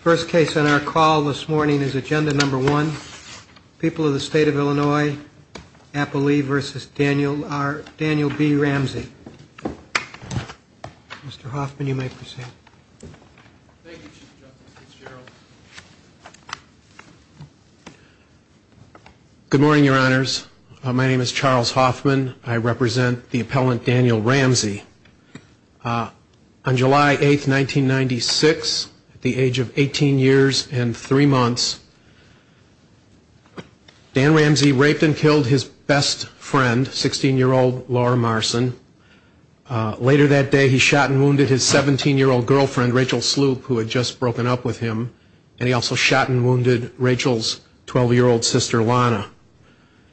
First case on our call this morning is Agenda No. 1. People of the State of Illinois, Applee v. Daniel B. Ramsey. Mr. Hoffman, you may proceed. Thank you, Mr. Chairman. Good morning, Your Honors. My name is Charles Hoffman. I represent the appellant Daniel Ramsey. On July 8, 1996, at the age of 18 years and 3 months, Daniel Ramsey raped and killed his best friend, 16-year-old Laura Marson. Later that day, he shot and wounded his 17-year-old girlfriend, Rachel Sloop, who had just broken up with him. And he also shot and wounded Rachel's 12-year-old sister, Lana.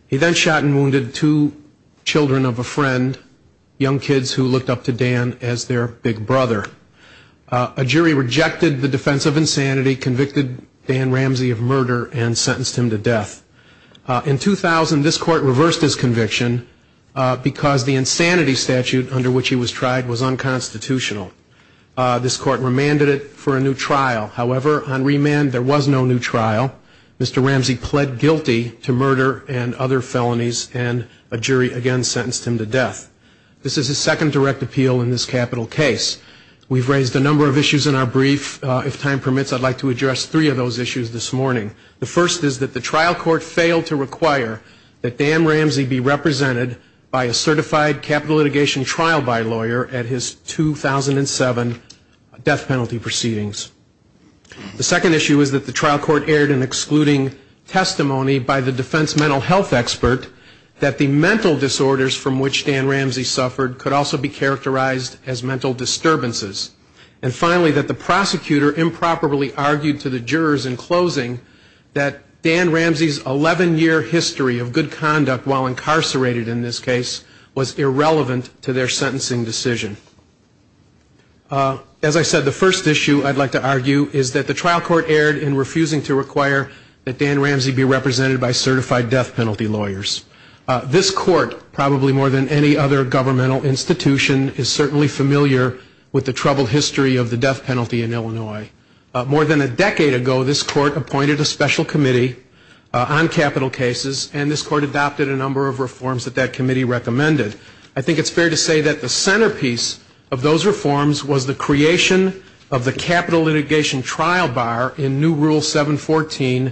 He then shot and wounded two children of a friend, young kids who looked up to Dan as their big brother. A jury rejected the defense of insanity, convicted Dan Ramsey of murder, and sentenced him to death. In 2000, this court reversed his conviction because the insanity statute under which he was tried was unconstitutional. This court remanded it for a new trial. However, on remand, there was no new trial. Mr. Ramsey pled guilty to murder and other felonies, and a jury again sentenced him to death. This is the second direct appeal in this capital case. We've raised a number of issues in our brief. If time permits, I'd like to address three of those issues this morning. The first is that the trial court failed to require that Dan Ramsey be represented by a certified capital litigation trial bylawyer at his 2007 death penalty proceedings. The second issue is that the trial court aired an excluding testimony by the defense mental health expert that the mental disorders from which Dan Ramsey suffered could also be characterized as mental disturbances. And finally, that the prosecutor improperly argued to the jurors in closing that Dan Ramsey's 11-year history of good conduct while incarcerated in this case was irrelevant to their sentencing decision. As I said, the first issue I'd like to argue is that the trial court aired in refusing to require that Dan Ramsey be represented by certified death penalty lawyers. This court, probably more than any other governmental institution, is certainly familiar with the troubled history of the death penalty in Illinois. More than a decade ago, this court appointed a special committee on capital cases, and this court adopted a number of reforms that that committee recommended. I think it's fair to say that the centerpiece of those reforms was the creation of the capital litigation trial bar in new Rule 714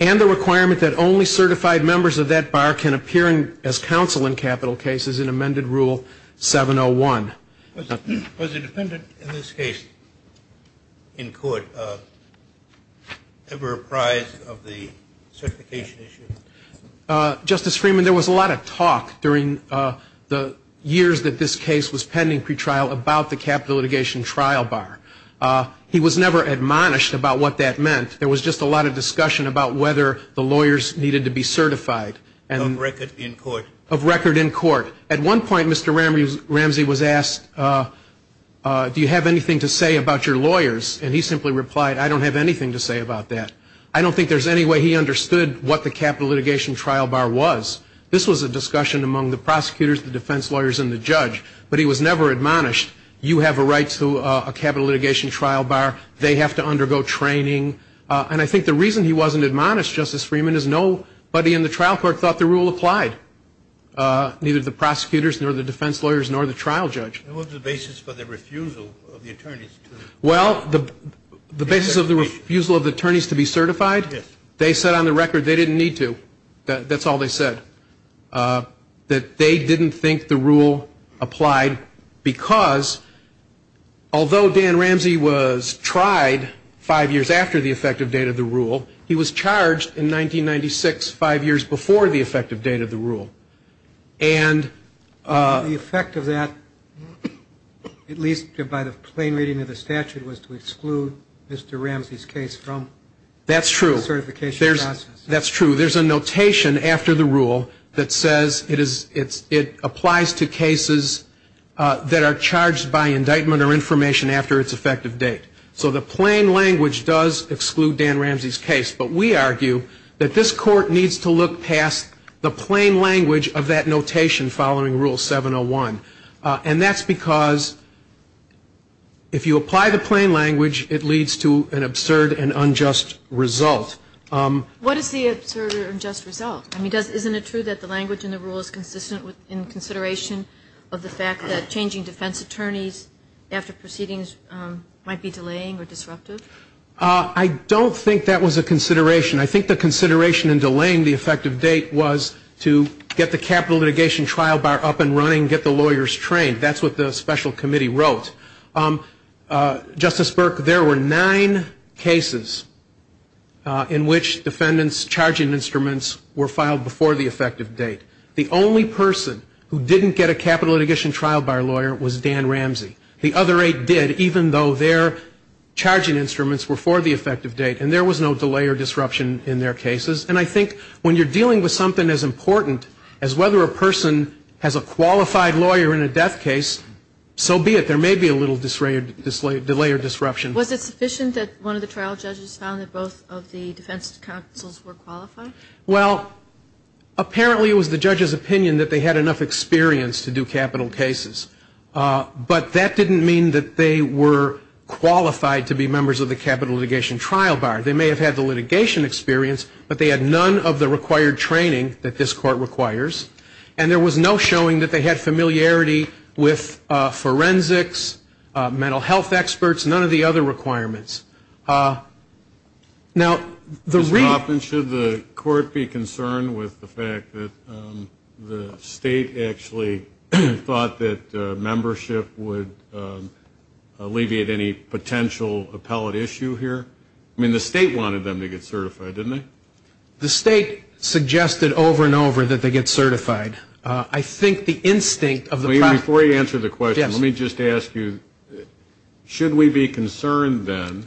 and the requirement that only certified members of that bar can appear as counsel in capital cases in amended Rule 701. Was the defendant in this case in court ever apprised of the certification issue? Justice Freeman, there was a lot of talk during the years that this case was pending pretrial about the capital litigation trial bar. He was never admonished about what that meant. There was just a lot of discussion about whether the lawyers needed to be certified. Of record in court. Of record in court. At one point, Mr. Ramsey was asked, do you have anything to say about your lawyers? And he simply replied, I don't have anything to say about that. I don't think there's any way he understood what the capital litigation trial bar was. This was a discussion among the prosecutors, the defense lawyers, and the judge. But he was never admonished. You have a right to a capital litigation trial bar. They have to undergo training. And I think the reason he wasn't admonished, Justice Freeman, is nobody in the trial court thought the rule applied, neither the prosecutors nor the defense lawyers nor the trial judge. What was the basis for the refusal of the attorneys? Well, the basis of the refusal of the attorneys to be certified, they said on the record they didn't need to. That's all they said. That they didn't think the rule applied because, although Dan Ramsey was tried five years after the effective date of the rule, he was charged in 1996, five years before the effective date of the rule. And the effect of that, at least by the plain reading of the statute, was to exclude Mr. Ramsey's case from the certification process. That's true. There's a notation after the rule that says it applies to cases that are charged by indictment or information after its effective date. So the plain language does exclude Dan Ramsey's case. But we argue that this court needs to look past the plain language of that notation following Rule 701. And that's because if you apply the plain language, it leads to an absurd and unjust result. What is the absurd and unjust result? I mean, isn't it true that the language in the rule is consistent in consideration of the fact that changing defense attorneys after proceedings might be delaying or disruptive? I don't think that was a consideration. I think the consideration in delaying the effective date was to get the capital litigation trial bar up and running, get the lawyers trained. That's what the special committee wrote. Justice Burke, there were nine cases in which defendants' charging instruments were filed before the effective date. The only person who didn't get a capital litigation trial bar lawyer was Dan Ramsey. The other eight did, even though their charging instruments were for the effective date. And there was no delay or disruption in their cases. And I think when you're dealing with something as important as whether a person has a qualified lawyer in a death case, so be it. There may be a little delay or disruption. Was it sufficient that one of the trial judges found that both of the defense counsels were qualified? Well, apparently it was the judge's opinion that they had enough experience to do capital cases. But that didn't mean that they were qualified to be members of the capital litigation trial bar. They may have had the litigation experience, but they had none of the required training that this court requires. And there was no showing that they had familiarity with forensics, mental health experts, none of the other requirements. Mr. Hoffman, should the court be concerned with the fact that the state actually thought that membership would alleviate any potential appellate issue here? I mean, the state wanted them to get certified, didn't they? The state suggested over and over that they get certified. Before you answer the question, let me just ask you, should we be concerned then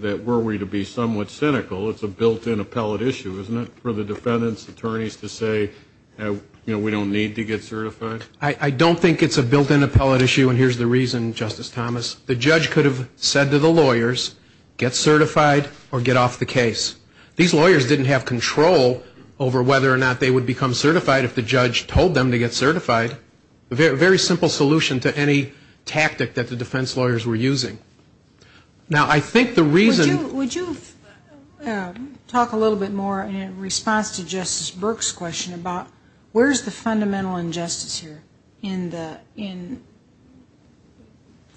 that were we to be somewhat cynical, it's a built-in appellate issue, isn't it, for the defendants' attorneys to say, you know, we don't need to get certified? I don't think it's a built-in appellate issue, and here's the reason, Justice Thomas. The judge could have said to the lawyers, get certified or get off the case. These lawyers didn't have control over whether or not they would become certified if the judge told them to get certified. A very simple solution to any tactic that the defense lawyers were using. Now, I think the reason... Would you talk a little bit more in response to Justice Burke's question about where's the fundamental injustice here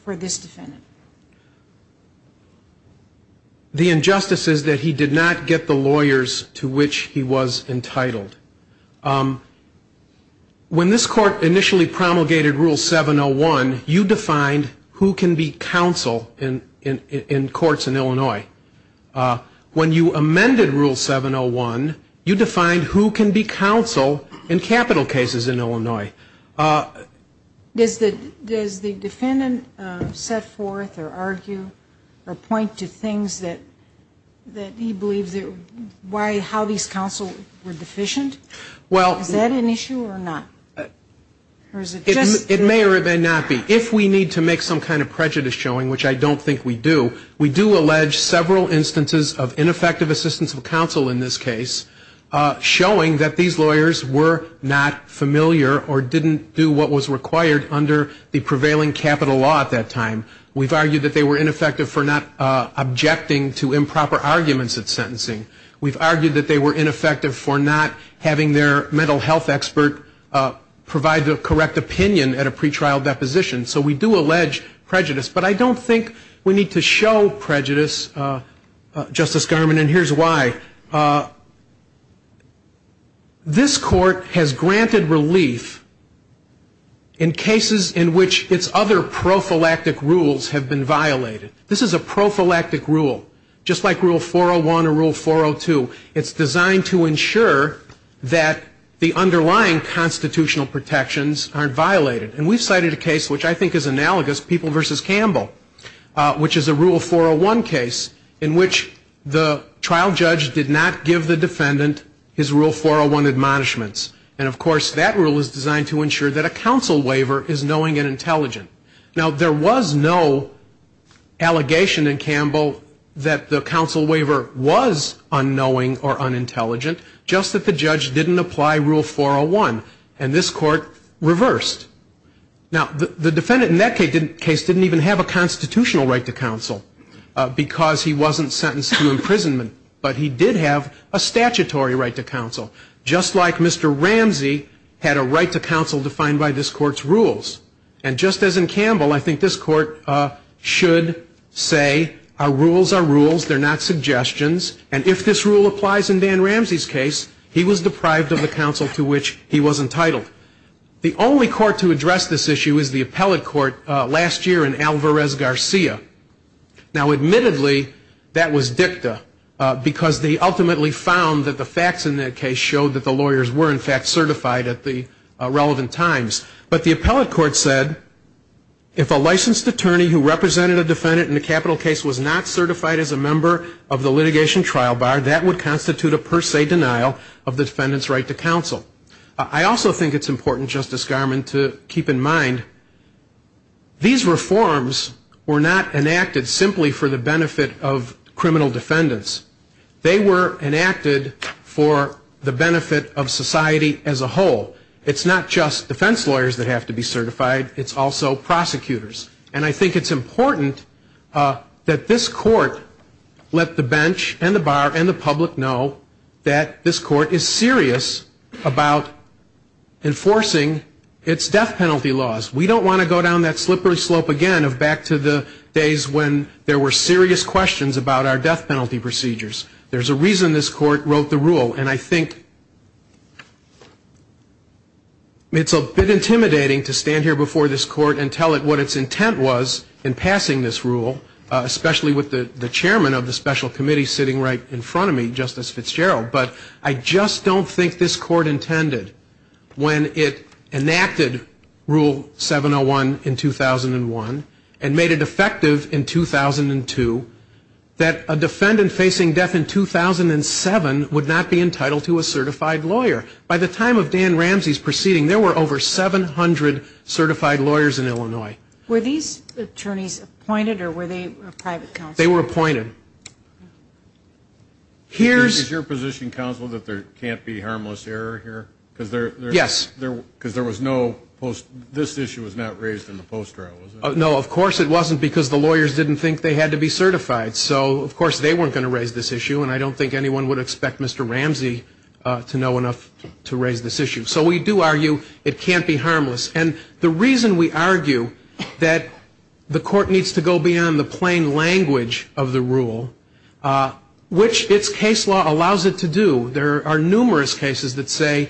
for this defendant? The injustice is that he did not get the lawyers to which he was entitled. When this court initially promulgated Rule 701, you defined who can be counsel in courts in Illinois. When you amended Rule 701, you defined who can be counsel in capital cases in Illinois. Does the defendant set forth or argue or point to things that he believes, how these counsels were deficient? Is that an issue or not? It may or it may not be. If we need to make some kind of prejudice showing, which I don't think we do, we do allege several instances of ineffective assistance of counsel in this case, showing that these lawyers were not familiar or didn't do what was required under the prevailing capital law at that time. We've argued that they were ineffective for not objecting to improper arguments at sentencing. We've argued that they were ineffective for not having their mental health expert provide the correct opinion at a pretrial deposition. So we do allege prejudice. But I don't think we need to show prejudice, Justice Garmon, and here's why. This court has granted relief in cases in which its other prophylactic rules have been violated. This is a prophylactic rule, just like Rule 401 or Rule 402. It's designed to ensure that the underlying constitutional protections aren't violated. And we've cited a case which I think is analogous, People v. Campbell, which is a Rule 401 case in which the trial judge did not give the defendant his Rule 401 admonishments. And, of course, that rule is designed to ensure that a counsel waiver is knowing and intelligent. Now, there was no allegation in Campbell that the counsel waiver was unknowing or unintelligent, just that the judge didn't apply Rule 401, and this court reversed. Now, the defendant in that case didn't even have a constitutional right to counsel because he wasn't sentenced to imprisonment, but he did have a statutory right to counsel, just like Mr. Ramsey had a right to counsel defined by this court's rules. And just as in Campbell, I think this court should say our rules are rules, they're not suggestions, and if this rule applies in Dan Ramsey's case, he was deprived of the counsel to which he was entitled. The only court to address this issue is the appellate court last year in Alvarez-Garcia. Now, admittedly, that was dicta because they ultimately found that the facts in that case showed that the lawyers were, in fact, certified at the relevant times. But the appellate court said if a licensed attorney who represented a defendant in the capital case was not certified as a member of the litigation trial bar, that would constitute a per se denial of the defendant's right to counsel. I also think it's important, Justice Garmon, to keep in mind these reforms were not enacted simply for the benefit of criminal defendants. They were enacted for the benefit of society as a whole. It's not just defense lawyers that have to be certified. It's also prosecutors. And I think it's important that this court let the bench and the bar and the public know that this court is serious about enforcing its death penalty laws. We don't want to go down that slippery slope again of back to the days when there were serious questions about our death penalty procedures. And I think it's a bit intimidating to stand here before this court and tell it what its intent was in passing this rule, especially with the chairman of the special committee sitting right in front of me, Justice Fitzgerald. But I just don't think this court intended, when it enacted Rule 701 in 2001 and made it effective in 2002, that a defendant facing death in 2007 would not be entitled to a certified lawyer. By the time of Dan Ramsey's proceeding, there were over 700 certified lawyers in Illinois. Were these attorneys appointed or were they private counsel? They were appointed. Is your position, counsel, that there can't be harmless error here? Yes. Because this issue was not raised in the post trial, was it? No, of course it wasn't because the lawyers didn't think they had to be certified. So, of course, they weren't going to raise this issue, and I don't think anyone would expect Mr. Ramsey to know enough to raise this issue. So we do argue it can't be harmless. And the reason we argue that the court needs to go beyond the plain language of the rule, which its case law allows it to do, there are numerous cases that say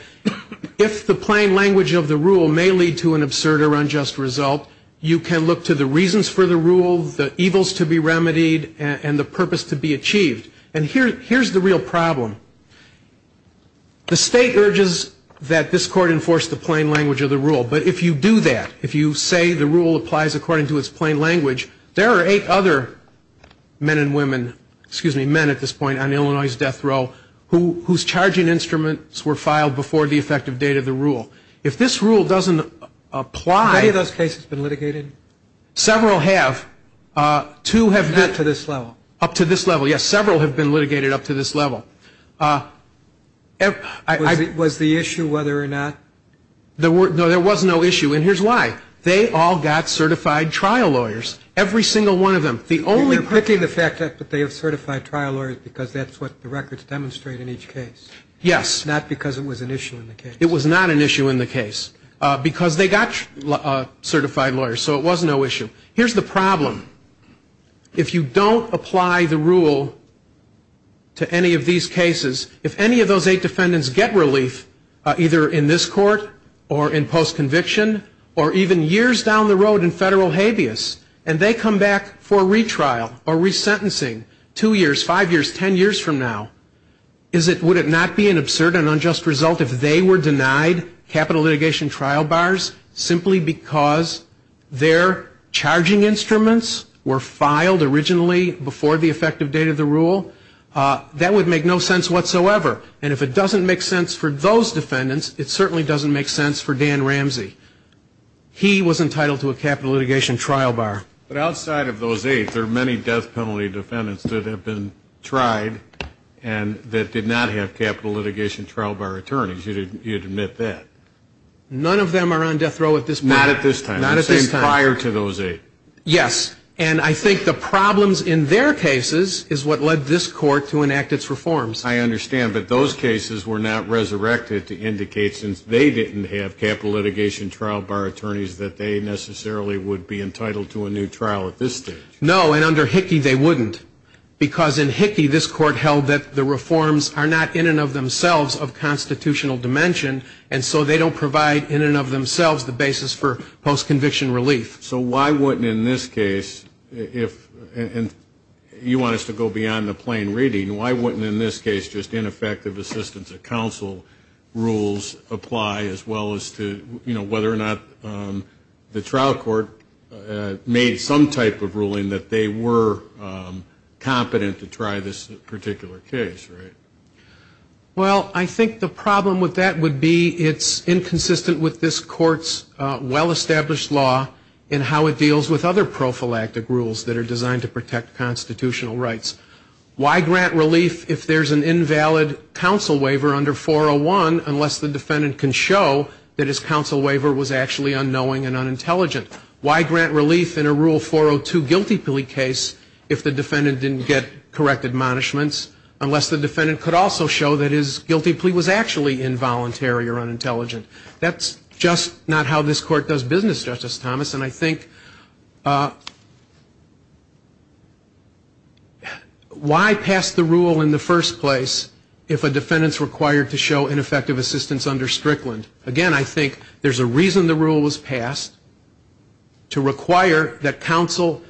if the plain language of the rule may lead to an absurd or unjust result, you can look to the reasons for the rule, the evils to be remedied, and the purpose to be achieved. And here's the real problem. The state urges that this court enforce the plain language of the rule. But if you do that, if you say the rule applies according to its plain language, there are eight other men and women, excuse me, men at this point on Illinois' death row, whose charging instruments were filed before the effective date of the rule. If this rule doesn't apply... How many of those cases have been litigated? Several have. Two have been... Not to this level. Up to this level, yes. Several have been litigated up to this level. Was the issue whether or not... No, there was no issue. And here's why. They all got certified trial lawyers. Every single one of them. You're picking the fact up that they have certified trial lawyers because that's what the records demonstrate in each case. Yes. Not because it was an issue in the case. It was not an issue in the case. Because they got certified lawyers, so it was no issue. Here's the problem. If you don't apply the rule to any of these cases, if any of those eight defendants get relief, either in this court or in post-conviction, or even years down the road in federal habeas, and they come back for retrial or resentencing two years, five years, ten years from now, would it not be an absurd and unjust result if they were denied capital litigation trial bars simply because their charging instruments were filed originally before the effective date of the rule? That would make no sense whatsoever. And if it doesn't make sense for those defendants, it certainly doesn't make sense for Dan Ramsey. He was entitled to a capital litigation trial bar. But outside of those eight, there are many death penalty defendants that have been tried and that did not have capital litigation trial bar attorneys. You'd admit that. None of them are on death row at this time. Not at this time. Not at this time. It came prior to those eight. Yes. And I think the problems in their cases is what led this court to enact its reforms. I understand, but those cases were not resurrected to indicate since they didn't have capital litigation trial bar attorneys that they necessarily would be entitled to a new trial at this stage. No, and under Hickey, they wouldn't. Because in Hickey, this court held that the reforms are not in and of themselves of constitutional dimension, and so they don't provide in and of themselves the basis for post-conviction relief. So why wouldn't in this case, and you want us to go beyond the plain reading, why wouldn't in this case just ineffective assistance of counsel rules apply as well as to whether or not the trial court made some type of ruling that they were competent to try this particular case, right? Well, I think the problem with that would be it's inconsistent with this court's well-established law in how it deals with other prophylactic rules that are designed to protect constitutional rights. Why grant relief if there's an invalid counsel waiver under 401 unless the defendant can show that his counsel waiver was actually unknowing and unintelligent? Why grant relief in a Rule 402 guilty plea case if the defendant didn't get correct admonishments unless the defendant could also show that his guilty plea was actually involuntary or unintelligent? That's just not how this court does business, Justice Thomas, and I think why pass the rule in the first place if a defendant is required to show ineffective assistance under Strickland? Again, I think there's a reason the rule was passed to require that counsel,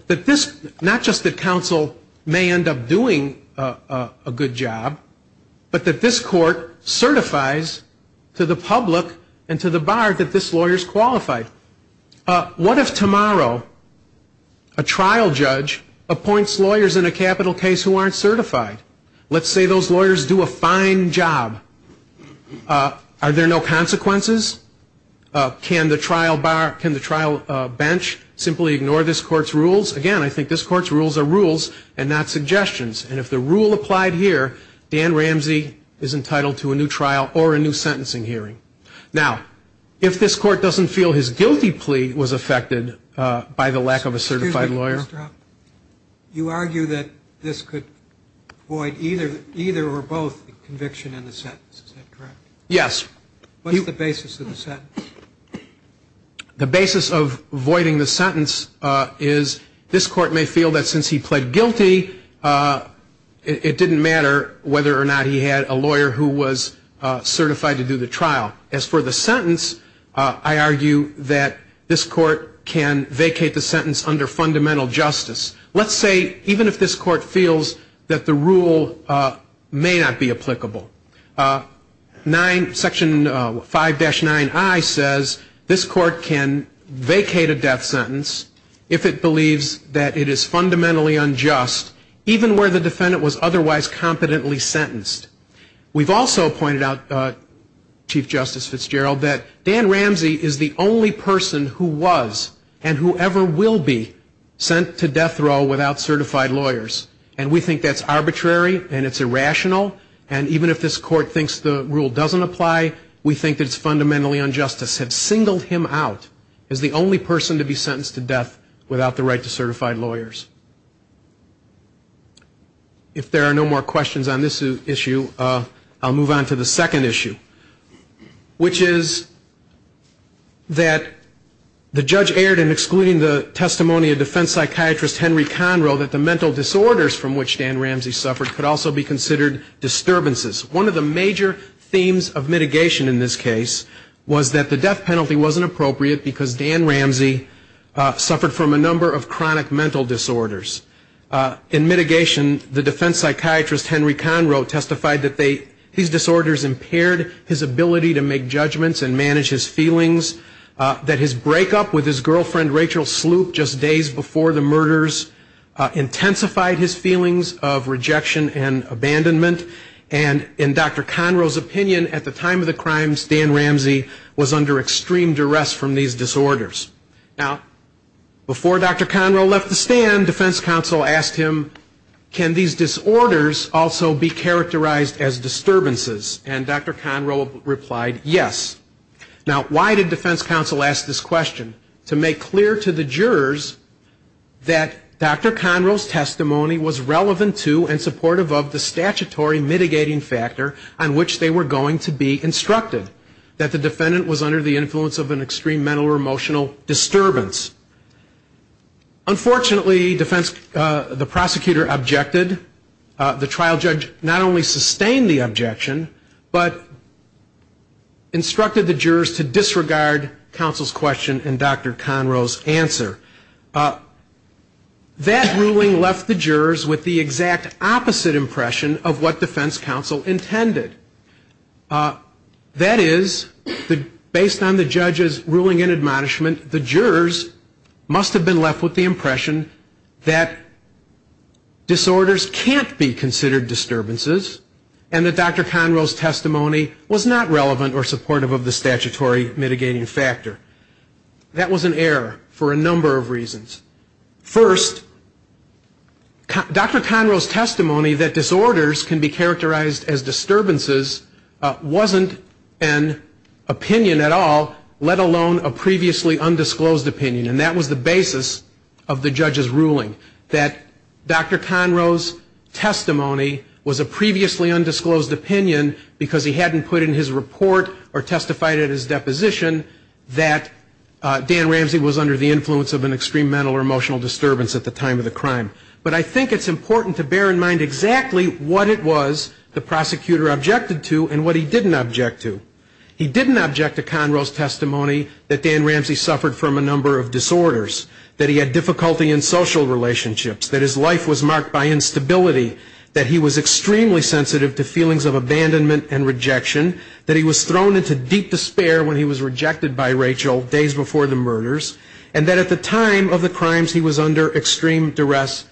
not just that counsel may end up doing a good job, but that this court certifies to the public and to the bar that this lawyer is qualified. What if tomorrow a trial judge appoints lawyers in a capital case who aren't certified? Let's say those lawyers do a fine job. Are there no consequences? Can the trial bench simply ignore this court's rules? Again, I think this court's rules are rules and not suggestions, and if the rule applied here, Dan Ramsey is entitled to a new trial or a new sentencing hearing. Now, if this court doesn't feel his guilty plea was affected by the lack of a certified lawyer? You argue that this could void either or both conviction and the sentence. Is that correct? Yes. What is the basis of the sentence? The basis of voiding the sentence is this court may feel that since he pled guilty, it didn't matter whether or not he had a lawyer who was certified to do the trial. As for the sentence, I argue that this court can vacate the sentence under fundamental justice. Let's say even if this court feels that the rule may not be applicable. Section 5-9i says this court can vacate a death sentence if it believes that it is fundamentally unjust, even where the defendant was otherwise competently sentenced. We've also pointed out, Chief Justice Fitzgerald, that Dan Ramsey is the only person who was and who ever will be sent to death row without certified lawyers, and we think that's arbitrary and it's irrational, and even if this court thinks the rule doesn't apply, we think it's fundamentally unjust. I've said single him out as the only person to be sentenced to death without the right to certified lawyers. If there are no more questions on this issue, I'll move on to the second issue, which is that the judge erred in excluding the testimony of defense psychiatrist Henry Conroe that the mental disorders from which Dan Ramsey suffered could also be considered disturbances. One of the major themes of mitigation in this case was that the death penalty wasn't appropriate because Dan Ramsey suffered from a number of chronic mental disorders. In mitigation, the defense psychiatrist Henry Conroe testified that these disorders impaired his ability to make judgments and manage his feelings, that his breakup with his girlfriend Rachel Sloop just days before the murders intensified his feelings of rejection and abandonment, and in Dr. Conroe's opinion at the time of the crimes, Dan Ramsey was under extreme duress from these disorders. Now, before Dr. Conroe left the stand, defense counsel asked him, can these disorders also be characterized as disturbances, and Dr. Conroe replied yes. Now, why did defense counsel ask this question? To make clear to the jurors that Dr. Conroe's testimony was relevant to and supportive of the statutory mitigating factor on which they were going to be instructed, that the defendant was under the influence of an extreme mental or emotional disturbance. Unfortunately, the prosecutor objected. The trial judge not only sustained the objection, but instructed the jurors to disregard counsel's question and Dr. Conroe's answer. That ruling left the jurors with the exact opposite impression of what defense counsel intended. That is, based on the judge's ruling and admonishment, the jurors must have been left with the impression that disorders can't be considered disturbances and that Dr. Conroe's testimony was not relevant or supportive of the statutory mitigating factor. That was an error for a number of reasons. First, Dr. Conroe's testimony that disorders can be characterized as disturbances wasn't an opinion at all, let alone a previously undisclosed opinion, and that was the basis of the judge's ruling, that Dr. Conroe's testimony was a previously undisclosed opinion because he hadn't put in his report or testified at his deposition that Dan Ramsey was under the influence of an extreme mental or emotional disturbance at the time of the crime. But I think it's important to bear in mind exactly what it was the prosecutor objected to and what he didn't object to. He didn't object to Conroe's testimony that Dan Ramsey suffered from a number of disorders, that he had difficulty in social relationships, that his life was marked by instability, that he was extremely sensitive to feelings of abandonment and rejection, that he was thrown into deep despair when he was rejected by Rachel days before the murders, and that at the time of the crimes he was under extreme duress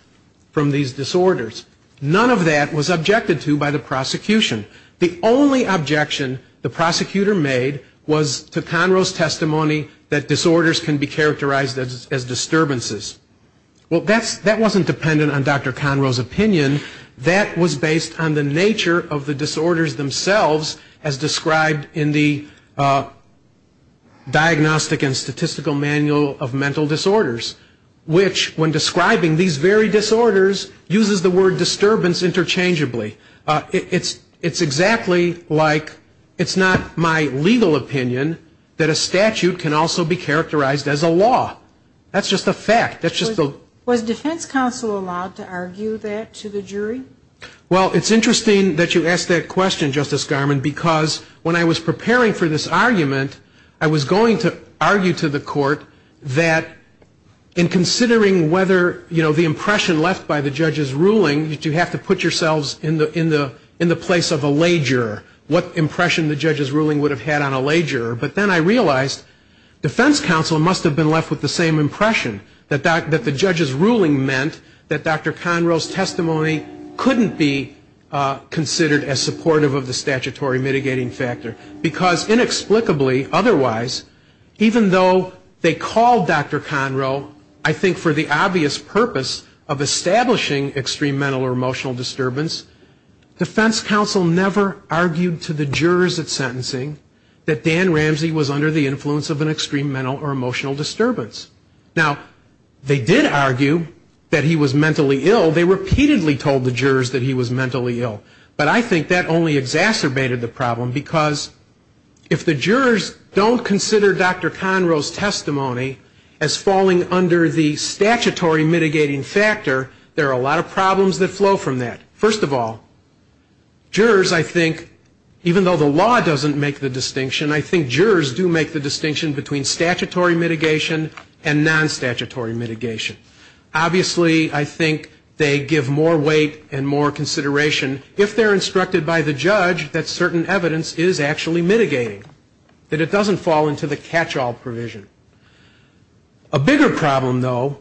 from these disorders. None of that was objected to by the prosecution. The only objection the prosecutor made was to Conroe's testimony that disorders can be characterized as disturbances. Well, that wasn't dependent on Dr. Conroe's opinion. That was based on the nature of the disorders themselves as described in the Diagnostic and Statistical Manual of Mental Disorders, which when describing these very disorders uses the word disturbance interchangeably. It's exactly like it's not my legal opinion that a statute can also be characterized as a law. That's just a fact. Was defense counsel allowed to argue that to the jury? Well, it's interesting that you ask that question, Justice Garmon, because when I was preparing for this argument I was going to argue to the court that in considering whether the impression left by the judge's ruling, you have to put yourselves in the place of a lay juror, what impression the judge's ruling would have had on a lay juror. But then I realized defense counsel must have been left with the same impression, that the judge's ruling meant that Dr. Conroe's testimony couldn't be considered as supportive of the statutory mitigating factor. Because inexplicably, otherwise, even though they called Dr. Conroe, I think for the obvious purpose of establishing extreme mental or emotional disturbance, defense counsel never argued to the jurors at sentencing that Dan Ramsey was under the influence of an extreme mental or emotional disturbance. Now, they did argue that he was mentally ill. They repeatedly told the jurors that he was mentally ill. But I think that only exacerbated the problem, because if the jurors don't consider Dr. Conroe's testimony as falling under the statutory mitigating factor, there are a lot of problems that flow from that. First of all, jurors, I think, even though the law doesn't make the distinction, I think jurors do make the distinction between statutory mitigation and non-statutory mitigation. Obviously, I think they give more weight and more consideration, if they're instructed by the judge that certain evidence is actually mitigating, that it doesn't fall into the catch-all provision. A bigger problem, though,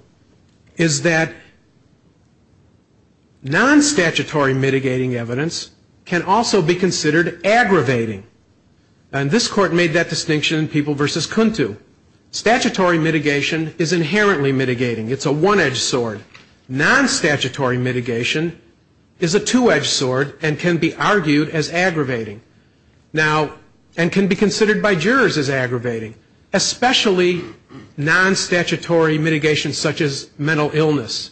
is that non-statutory mitigating evidence can also be considered aggravating. And this court made that distinction in People v. Kuntu. Statutory mitigation is inherently mitigating. It's a one-edged sword. Non-statutory mitigation is a two-edged sword and can be argued as aggravating, and can be considered by jurors as aggravating, especially non-statutory mitigation such as mental illness.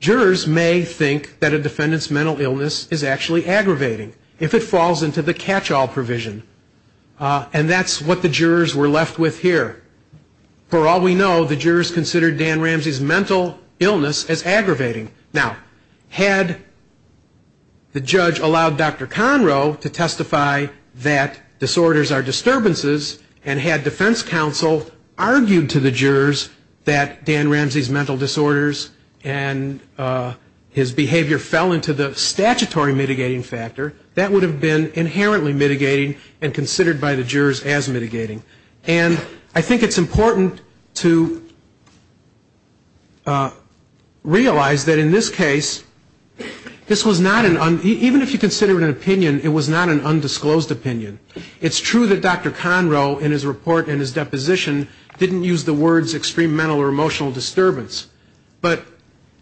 Jurors may think that a defendant's mental illness is actually aggravating, if it falls into the catch-all provision. And that's what the jurors were left with here. For all we know, the jurors considered Dan Ramsey's mental illness as aggravating. Now, had the judge allowed Dr. Conroe to testify that disorders are disturbances and had defense counsel argue to the jurors that Dan Ramsey's mental disorders and his behavior fell into the statutory mitigating factor, that would have been inherently mitigating and considered by the jurors as mitigating. And I think it's important to realize that in this case, even if you consider it an opinion, it was not an undisclosed opinion. It's true that Dr. Conroe, in his report and his deposition, didn't use the words extreme mental or emotional disturbance. But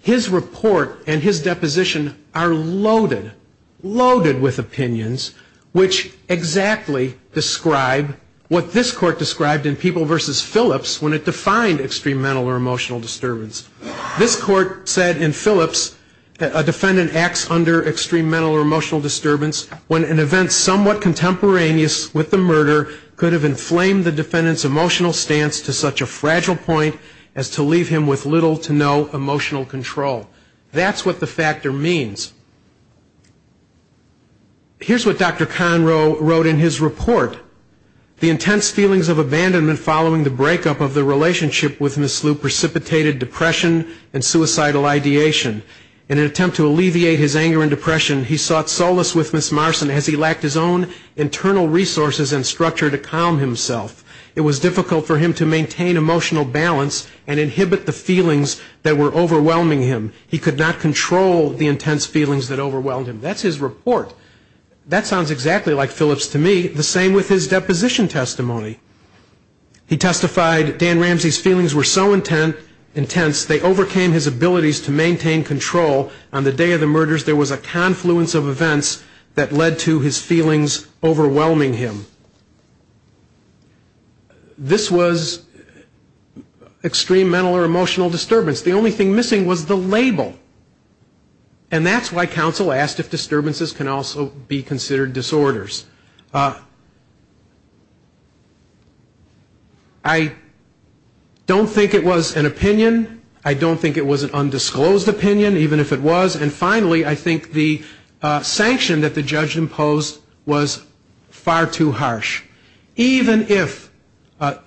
his report and his deposition are loaded, loaded with opinions, which exactly describe what this court described in People v. Phillips when it defined extreme mental or emotional disturbance. This court said in Phillips, a defendant acts under extreme mental or emotional disturbance when an event somewhat contemporaneous with the murder could have inflamed the defendant's emotional stance to such a fragile point as to leave him with little to no emotional control. That's what the factor means. Here's what Dr. Conroe wrote in his report. The intense feelings of abandonment following the breakup of the relationship with Ms. Lu precipitated depression and suicidal ideation. In an attempt to alleviate his anger and depression, he sought solace with Ms. Marston as he lacked his own internal resources and structure to calm himself. It was difficult for him to maintain emotional balance and inhibit the feelings that were overwhelming him. He could not control the intense feelings that overwhelmed him. That's his report. That sounds exactly like Phillips to me. The same with his deposition testimony. He testified Dan Ramsey's feelings were so intense, they overcame his abilities to maintain control. On the day of the murders, there was a confluence of events that led to his feelings overwhelming him. This was extreme mental or emotional disturbance. The only thing missing was the label. And that's why counsel asked if disturbances can also be considered disorders. I don't think it was an opinion. I don't think it was an undisclosed opinion, even if it was. And finally, I think the sanction that the judge imposed was far too harsh. Even if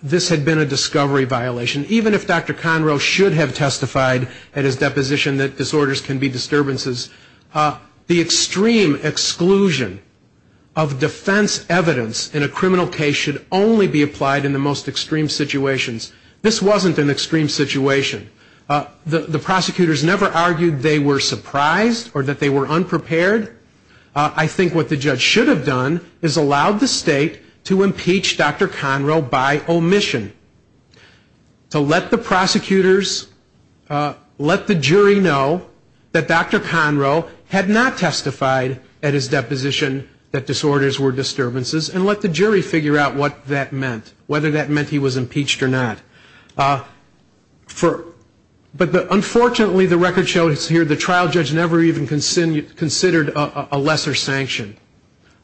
this had been a discovery violation, even if Dr. Conroe should have testified in his deposition that disorders can be disturbances, the extreme exclusion of defense evidence in a criminal case should only be applied in the most extreme situations. This wasn't an extreme situation. The prosecutors never argued they were surprised or that they were unprepared. I think what the judge should have done is allowed the state to impeach Dr. Conroe by omission. So let the prosecutors, let the jury know that Dr. Conroe had not testified at his deposition that disorders were disturbances and let the jury figure out what that meant, whether that meant he was impeached or not. But unfortunately, the record shows here the trial judge never even considered a lesser sanction.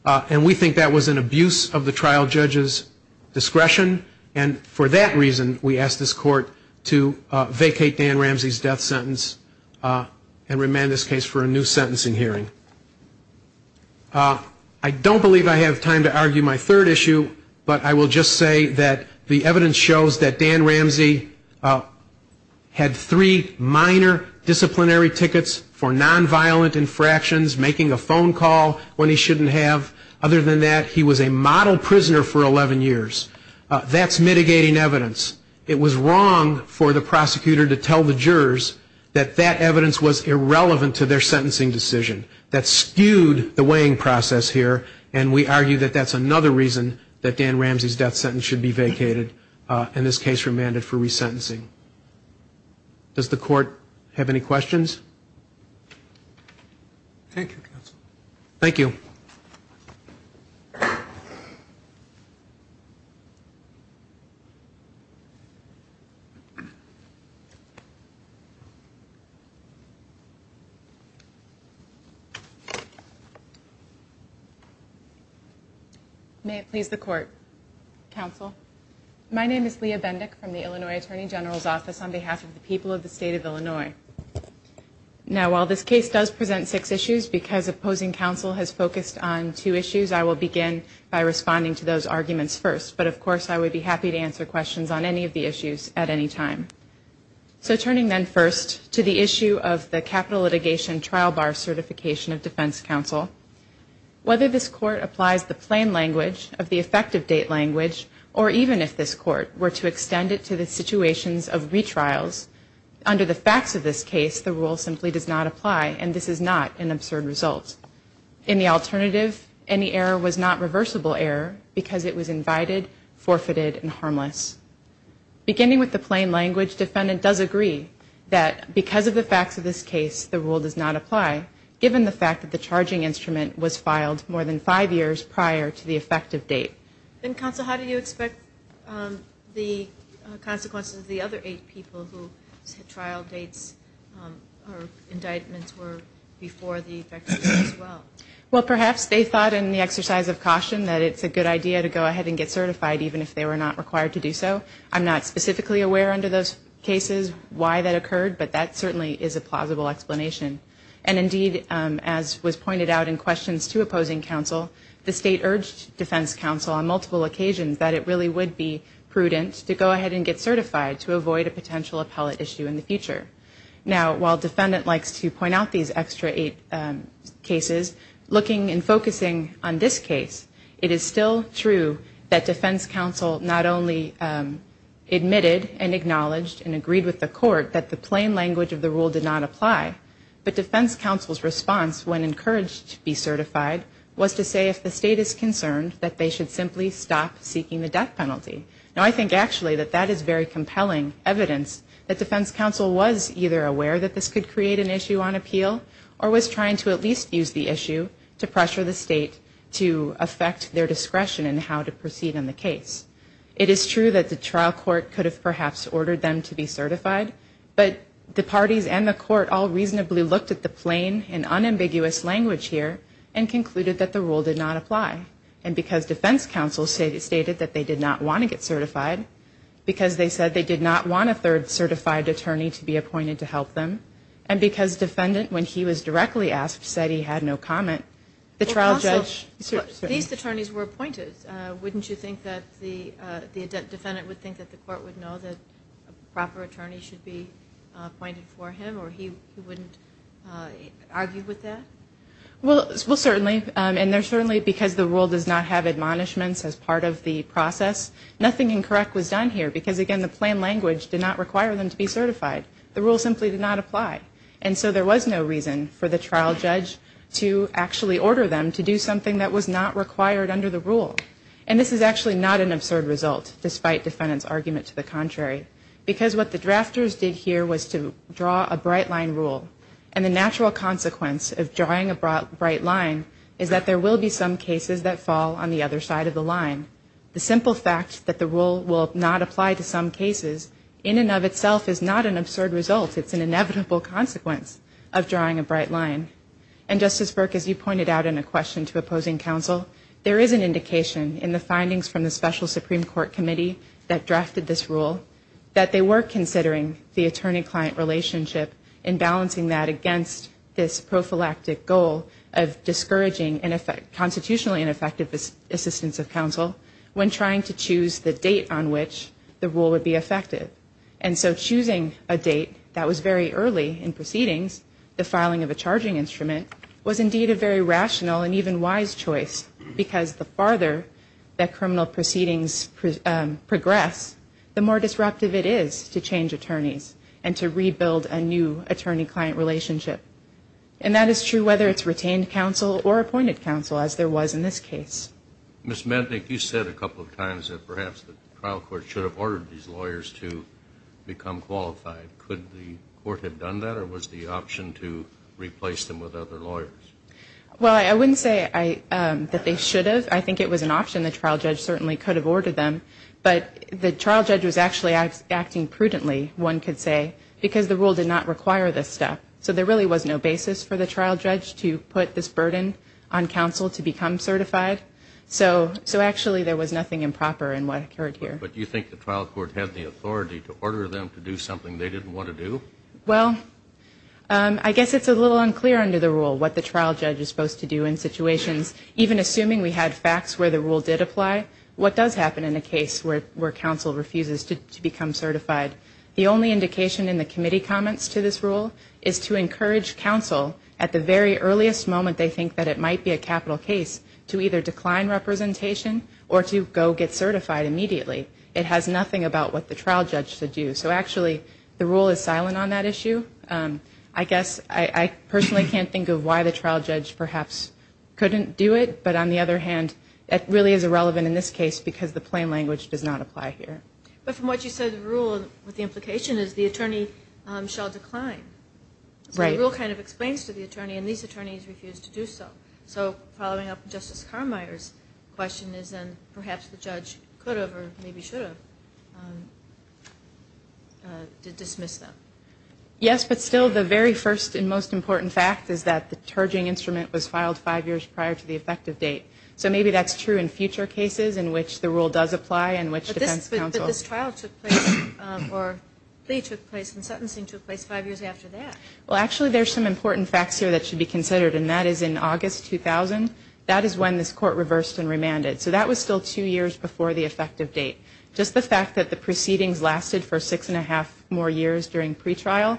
And we think that was an abuse of the trial judge's discretion and for that reason we ask this court to vacate Dan Ramsey's death sentence and remand this case for a new sentencing hearing. I don't believe I have time to argue my third issue, but I will just say that the evidence shows that Dan Ramsey had three minor disciplinary tickets for nonviolent infractions, making a phone call when he shouldn't have. Other than that, he was a model prisoner for 11 years. That's mitigating evidence. It was wrong for the prosecutor to tell the jurors that that evidence was irrelevant to their sentencing decision. That skewed the weighing process here and we argue that that's another reason that Dan Ramsey's death sentence should be vacated and this case remanded for resentencing. Does the court have any questions? Thank you, counsel. Thank you. May it please the court. Counsel. My name is Leah Bendix from the Illinois Attorney General's Office on behalf of the people of the state of Illinois. Now, while this case does present six issues because opposing counsel has focused on two issues, I will begin by responding to those arguments first, but of course I would be happy to answer questions on any of the issues at any time. So turning then first to the issue of the capital litigation trial bar certification of defense counsel, whether this court applies the plain language of the effective date language or even if this court were to extend it to the situations of retrials, under the facts of this case, the rule simply does not apply and this is not an absurd result. In the alternative, any error was not reversible error because it was invited, forfeited, and harmless. Beginning with the plain language, defendant does agree that because of the facts of this case, the rule does not apply given the fact that the charging instrument was filed more than five years prior to the effective date. Then counsel, how do you expect the consequences of the other eight people who had trial dates or indictments were before the effective date as well? Well, perhaps they thought in the exercise of caution that it's a good idea to go ahead and get certified even if they were not required to do so. I'm not specifically aware under those cases why that occurred, but that certainly is a plausible explanation. And indeed, as was pointed out in questions to opposing counsel, the state urged defense counsel on multiple occasions that it really would be prudent to go ahead and get certified to avoid a potential appellate issue in the future. Now, while defendant likes to point out these extra eight cases, looking and focusing on this case, it is still true that defense counsel not only admitted and acknowledged and agreed with the court that the plain language of the rule did not apply, but defense counsel's response when encouraged to be certified was to say if the state is concerned that they should simply stop seeking the death penalty. Now, I think actually that that is very compelling evidence that defense counsel was either aware that this could create an issue on appeal or was trying to at least use the issue to pressure the state to affect their discretion in how to proceed in the case. It is true that the trial court could have perhaps ordered them to be certified, but the parties and the court all reasonably looked at the plain and unambiguous language here and concluded that the rule did not apply. And because defense counsel stated that they did not want to get certified, because they said they did not want a third certified attorney to be appointed to help them, and because defendant, when he was directly asked, said he had no comment, the trial judge... These attorneys were appointed. Wouldn't you think that the defendant would think that the court would know that a proper attorney should be appointed for him or he wouldn't argue with that? Well, certainly. And certainly because the rule does not have admonishments as part of the process, nothing incorrect was done here because, again, the plain language did not require them to be certified. The rule simply did not apply. And so there was no reason for the trial judge to actually order them to do something that was not required under the rule. And this is actually not an absurd result, despite the defendant's argument to the contrary, because what the drafters did here was to draw a bright line rule. And the natural consequence of drawing a bright line is that there will be some cases that fall on the other side of the line. The simple fact that the rule will not apply to some cases in and of itself is not an absurd result. It's an inevitable consequence of drawing a bright line. And, Justice Burke, as you pointed out in a question to opposing counsel, there is an indication in the findings from the special Supreme Court committee that drafted this rule that they were considering the attorney-client relationship and balancing that against this prophylactic goal of discouraging and constitutionally ineffective assistance of counsel when trying to choose the date on which the rule would be effective. And so choosing a date that was very early in proceedings, the filing of a charging instrument, was indeed a very rational and even wise choice, because the farther that criminal proceedings progress, the more disruptive it is to change attorneys and to rebuild a new attorney-client relationship. And that is true whether it's retained counsel or appointed counsel, as there was in this case. Ms. Mednick, you said a couple of times that perhaps the trial court should have ordered these lawyers to become qualified. Could the court have done that, or was the option to replace them with other lawyers? Well, I wouldn't say that they should have. I think it was an option the trial judge certainly could have ordered them. But the trial judge was actually acting prudently, one could say, because the rule did not require this step. So there really was no basis for the trial judge to put this burden on counsel to become certified. So actually there was nothing improper in what occurred here. Okay, but do you think the trial court had the authority to order them to do something they didn't want to do? Well, I guess it's a little unclear under the rule what the trial judge is supposed to do in situations. Even assuming we had facts where the rule did apply, what does happen in a case where counsel refuses to become certified? The only indication in the committee comments to this rule is to encourage counsel, at the very earliest moment they think that it might be a capital case, to either decline representation or to go get certified immediately. It has nothing about what the trial judge should do. So actually the rule is silent on that issue. I guess I personally can't think of why the trial judge perhaps couldn't do it. But on the other hand, that really is irrelevant in this case because the plain language does not apply here. But from what you said, the rule, the implication is the attorney shall decline. Right. The rule kind of explains to the attorney, and these attorneys refuse to do so. So following up Justice Carminer's question is then perhaps the judge could have or maybe should have dismissed them. Yes, but still the very first and most important fact is that the detergent instrument was filed five years prior to the effective date. So maybe that's true in future cases in which the rule does apply and which defense counsel – But this trial took place, or state took place and sentencing took place five years after that. Well, actually there's some important facts here that should be considered, and that is in August 2000, that is when this court reversed and remanded. So that was still two years before the effective date. Just the fact that the proceedings lasted for six and a half more years during pretrial,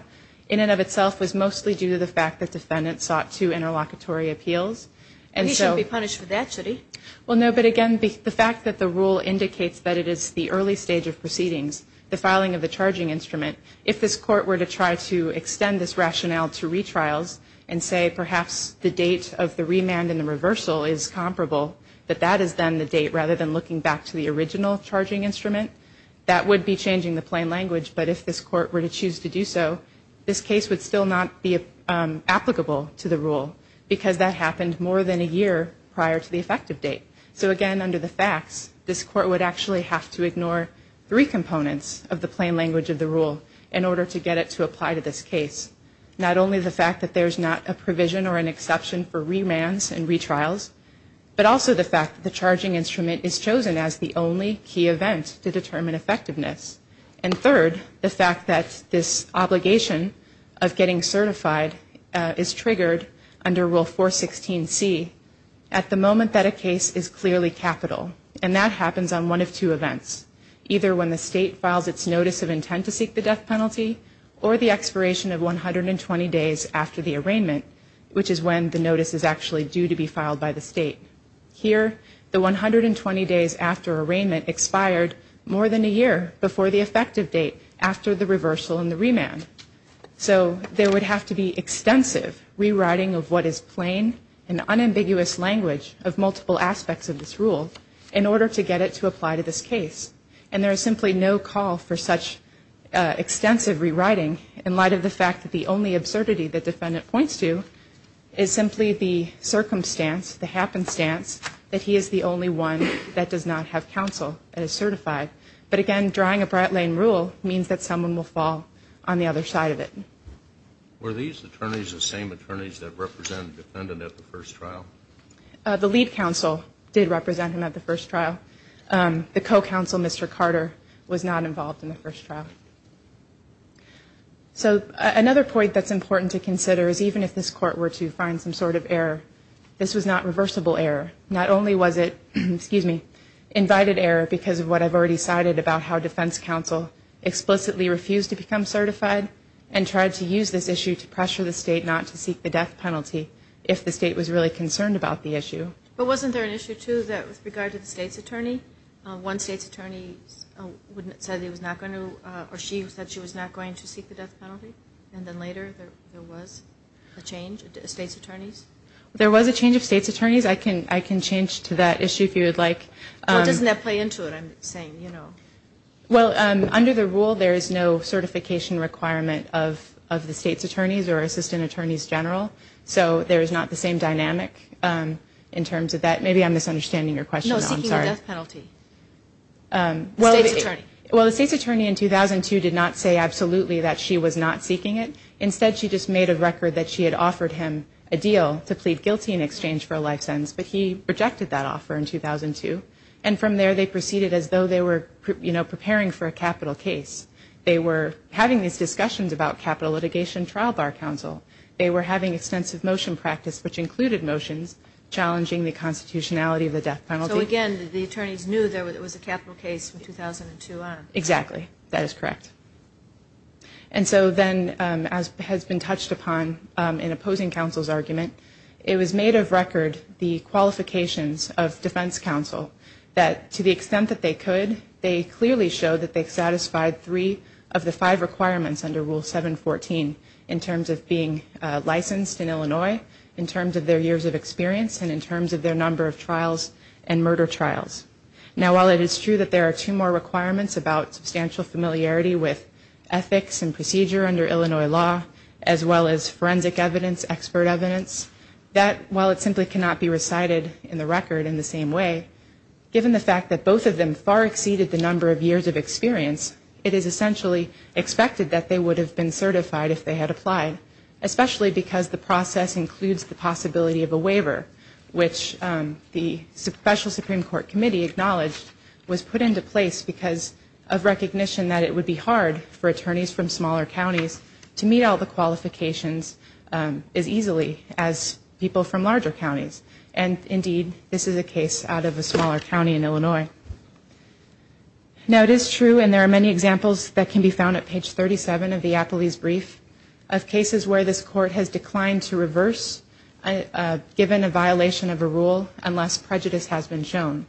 in and of itself was mostly due to the fact that the Senate sought two interlocutory appeals. And you should be punished for that, Judy. Well, no, but again, the fact that the rule indicates that it is the early stage of proceedings, the filing of the charging instrument, if this court were to try to extend this rationale to retrials and say perhaps the date of the remand and the reversal is comparable, that that is then the date rather than looking back to the original charging instrument, that would be changing the plain language. But if this court were to choose to do so, this case would still not be applicable to the rule because that happened more than a year prior to the effective date. So again, under the facts, this court would actually have to ignore three components of the plain language of the rule in order to get it to apply to this case. Not only the fact that there's not a provision or an exception for remands and retrials, but also the fact that the charging instrument is chosen as the only key event to determine effectiveness. And third, the fact that this obligation of getting certified is triggered under Rule 416C at the moment that a case is clearly capital. And that happens on one of two events, either when the state files its notice of intent to seek the death penalty or the expiration of 120 days after the arraignment, which is when the notice is actually due to be filed by the state. Here, the 120 days after arraignment expired more than a year before the effective date, after the reversal and the remand. So there would have to be extensive rewriting of what is plain and unambiguous language of multiple aspects of this rule in order to get it to apply to this case. And there's simply no call for such extensive rewriting in light of the fact that the only absurdity the defendant points to is simply the circumstance, the happenstance, that he is the only one that does not have counsel as certified. But again, drawing a Brat Lane rule means that someone will fall on the other side of it. Were these attorneys the same attorneys that represented the defendant at the first trial? The lead counsel did represent him at the first trial. The co-counsel, Mr. Carter, was not involved in the first trial. So another point that's important to consider is even if this court were to find some sort of error, this was not reversible error. Not only was it invited error because of what I've already cited about how defense counsel explicitly refused to become certified and tried to use this issue to pressure the state not to seek the death penalty if the state was really concerned about the issue. But wasn't there an issue, too, with regard to the state's attorney? One state's attorney said she was not going to seek the death penalty, and then later there was a change of state's attorneys? There was a change of state's attorneys. I can change to that issue if you would like. Why doesn't that play into it? Well, under the rule, there is no certification requirement of the state's attorneys or assistant attorneys general. So there is not the same dynamic in terms of that. Maybe I'm misunderstanding your question. No, it's seeking a death penalty. Well, the state's attorney in 2002 did not say absolutely that she was not seeking it. Instead, she just made a record that she had offered him a deal to plead guilty in exchange for a license, but he rejected that offer in 2002. And from there, they proceeded as though they were preparing for a capital case. They were having these discussions about capital litigation trial bar counsel. They were having extensive motion practice, which included motions, challenging the constitutionality of the death penalty. So, again, the attorneys knew there was a capital case from 2002 on. Exactly. That is correct. And so then, as has been touched upon in opposing counsel's argument, it was made of record the qualifications of defense counsel that, to the extent that they could, they clearly showed that they satisfied three of the five requirements under Rule 714 in terms of being licensed in Illinois, in terms of their years of experience, and in terms of their number of trials and murder trials. Now, while it is true that there are two more requirements about substantial familiarity with ethics and procedure under Illinois law, as well as forensic evidence, expert evidence, that while it simply cannot be recited in the record in the same way, given the fact that both of them far exceeded the number of years of experience, it is essentially expected that they would have been certified if they had applied, especially because the process includes the possibility of a waiver, which the special Supreme Court committee acknowledged was put into place because of recognition that it would be hard for attorneys from smaller counties to meet all the qualifications as easily as people from larger counties. And, indeed, this is a case out of a smaller county in Illinois. Now, it is true, and there are many examples that can be found at page 37 of the Appley's brief, of cases where this court has declined to reverse, given a violation of a rule, unless prejudice has been shown.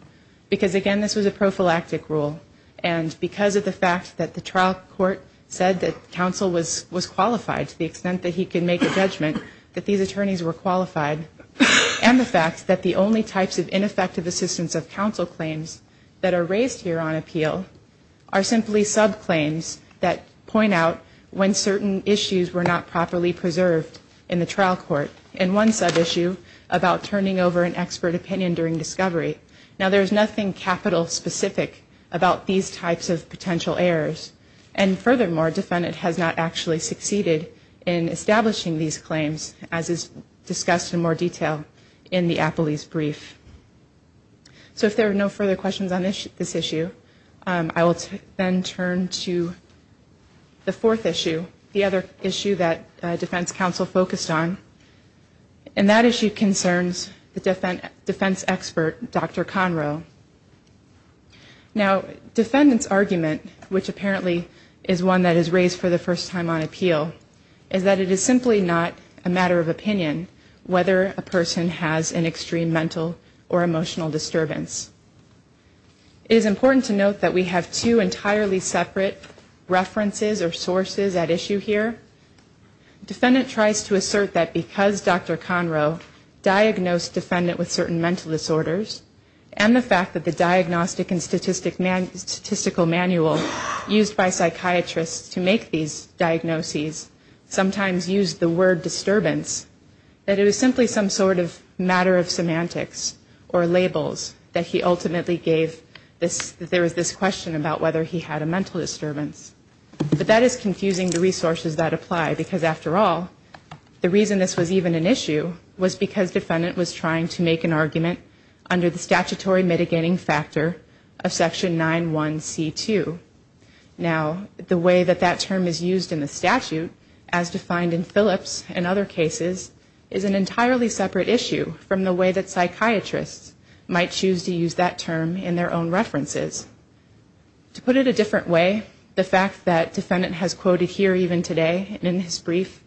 Because, again, this was a prophylactic rule. And because of the fact that the trial court said that counsel was qualified, to the extent that he could make a judgment that these attorneys were qualified, and the fact that the only types of ineffective assistance of counsel claims that are raised here on appeal are simply sub-claims that point out when certain issues were not properly preserved in the trial court, and one sub-issue about turning over an expert opinion during discovery. Now, there is nothing capital specific about these types of potential errors. And, furthermore, defendants have not actually succeeded in establishing these claims, as is discussed in more detail in the Appley's brief. So, if there are no further questions on this issue, I will then turn to the fourth issue, the other issue that defense counsel focused on. And that issue concerns the defense expert, Dr. Conroe. Now, defendants' argument, which apparently is one that is raised for the first time on appeal, is that it is simply not a matter of opinion whether a person has an extreme mental or emotional disturbance. It is important to note that we have two entirely separate references or sources at issue here. Defendant tries to assert that because Dr. Conroe diagnosed defendant with certain mental disorders, and the fact that the diagnostic and statistical manual used by psychiatrists to make these diagnoses sometimes use the word disturbance, that it is simply some sort of matter of semantics or labels that he ultimately gave this question about whether he had a mental disturbance. But that is confusing the resources that apply, because, after all, the reason this was even an issue was because defendant was trying to make an argument under the statutory mitigating factor of Section 9.1.C.2. Now, the way that that term is used in the statute, as defined in Phillips and other cases, is an entirely separate issue from the way that psychiatrists might choose to use that term in their own references. To put it a different way, the fact that defendant has quoted here even today, in his brief,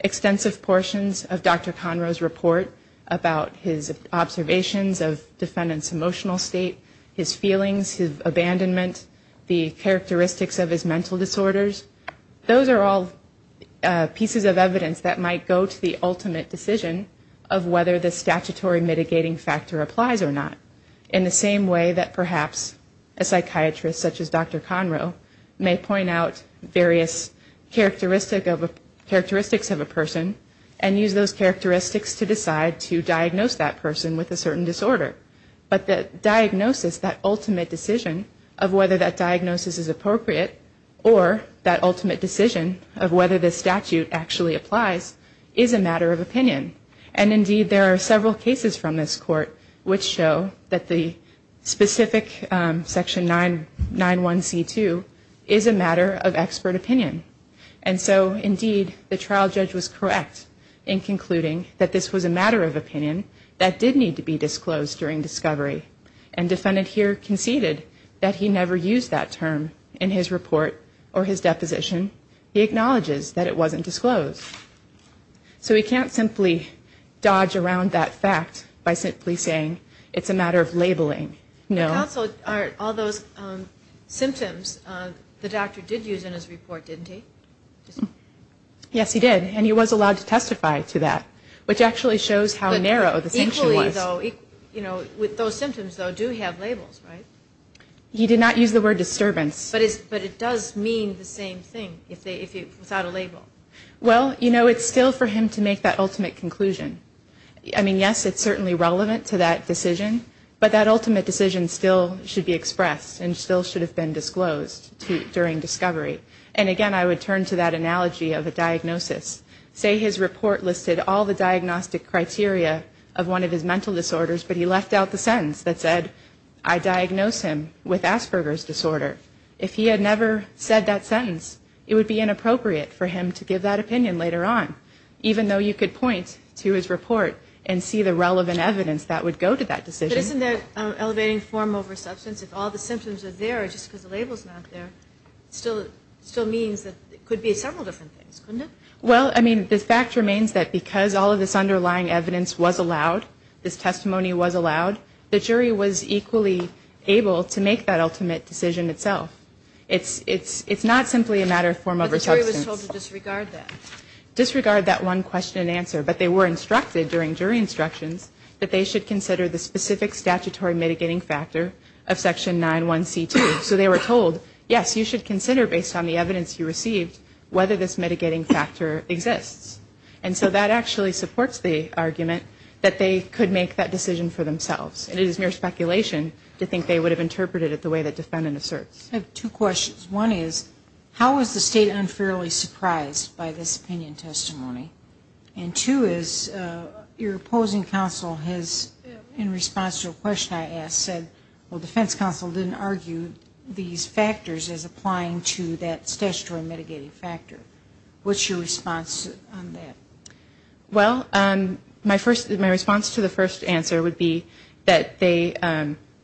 extensive portions of Dr. Conroe's report about his observations of defendant's emotional state, his feelings, his abandonment, the characteristics of his mental disorders, those are all pieces of evidence that might go to the ultimate decision of whether the statutory mitigating factor applies or not, in the same way that perhaps a psychiatrist, such as Dr. Conroe, may point out various characteristics of a person and use those characteristics to decide to diagnose that person with a certain disorder. But the diagnosis, that ultimate decision of whether that diagnosis is appropriate or that ultimate decision of whether the statute actually applies, is a matter of opinion. And, indeed, there are several cases from this court which show that the specific Section 9.1.C.2 is a matter of expert opinion. And so, indeed, the trial judge was correct in concluding that this was a matter of opinion that did need to be disclosed during discovery. And defendant here conceded that he never used that term in his report or his deposition. He acknowledges that it wasn't disclosed. So we can't simply dodge around that fact by simply saying it's a matter of labeling. Also, all those symptoms, the doctor did use in his report, didn't he? Yes, he did. And he was allowed to testify to that, which actually shows how narrow the thing was. Equally, though, with those symptoms, though, do have labels, right? He did not use the word disturbance. But it does mean the same thing without a label. Well, you know, it's still for him to make that ultimate conclusion. I mean, yes, it's certainly relevant to that decision. But that ultimate decision still should be expressed and still should have been disclosed during discovery. And, again, I would turn to that analogy of a diagnosis. Say his report listed all the diagnostic criteria of one of his mental disorders, but he left out the sentence that said, I diagnose him with Asperger's disorder. If he had never said that sentence, it would be inappropriate for him to give that opinion later on, even though you could point to his report and see the relevant evidence that would go to that decision. Isn't that an elevating form over substance? Well, I mean, the fact remains that because all of this underlying evidence was allowed, this testimony was allowed, the jury was equally able to make that ultimate decision itself. It's not simply a matter of form over substance. But the jury was told to disregard that. Disregard that one question and answer. But they were instructed during jury instructions that they should consider the specific statutory mitigating factor of sexual assault. So they were told, yes, you should consider, based on the evidence you received, whether this mitigating factor exists. And so that actually supports the argument that they could make that decision for themselves. It is mere speculation to think they would have interpreted it the way they did in the search. I have two questions. One is, how was the state unfairly surprised by this opinion testimony? And two is, your opposing counsel has, in response to a question I asked, said, well, the defense counsel didn't argue these factors as applying to that statutory mitigating factor. What's your response on that? Well, my response to the first answer would be that they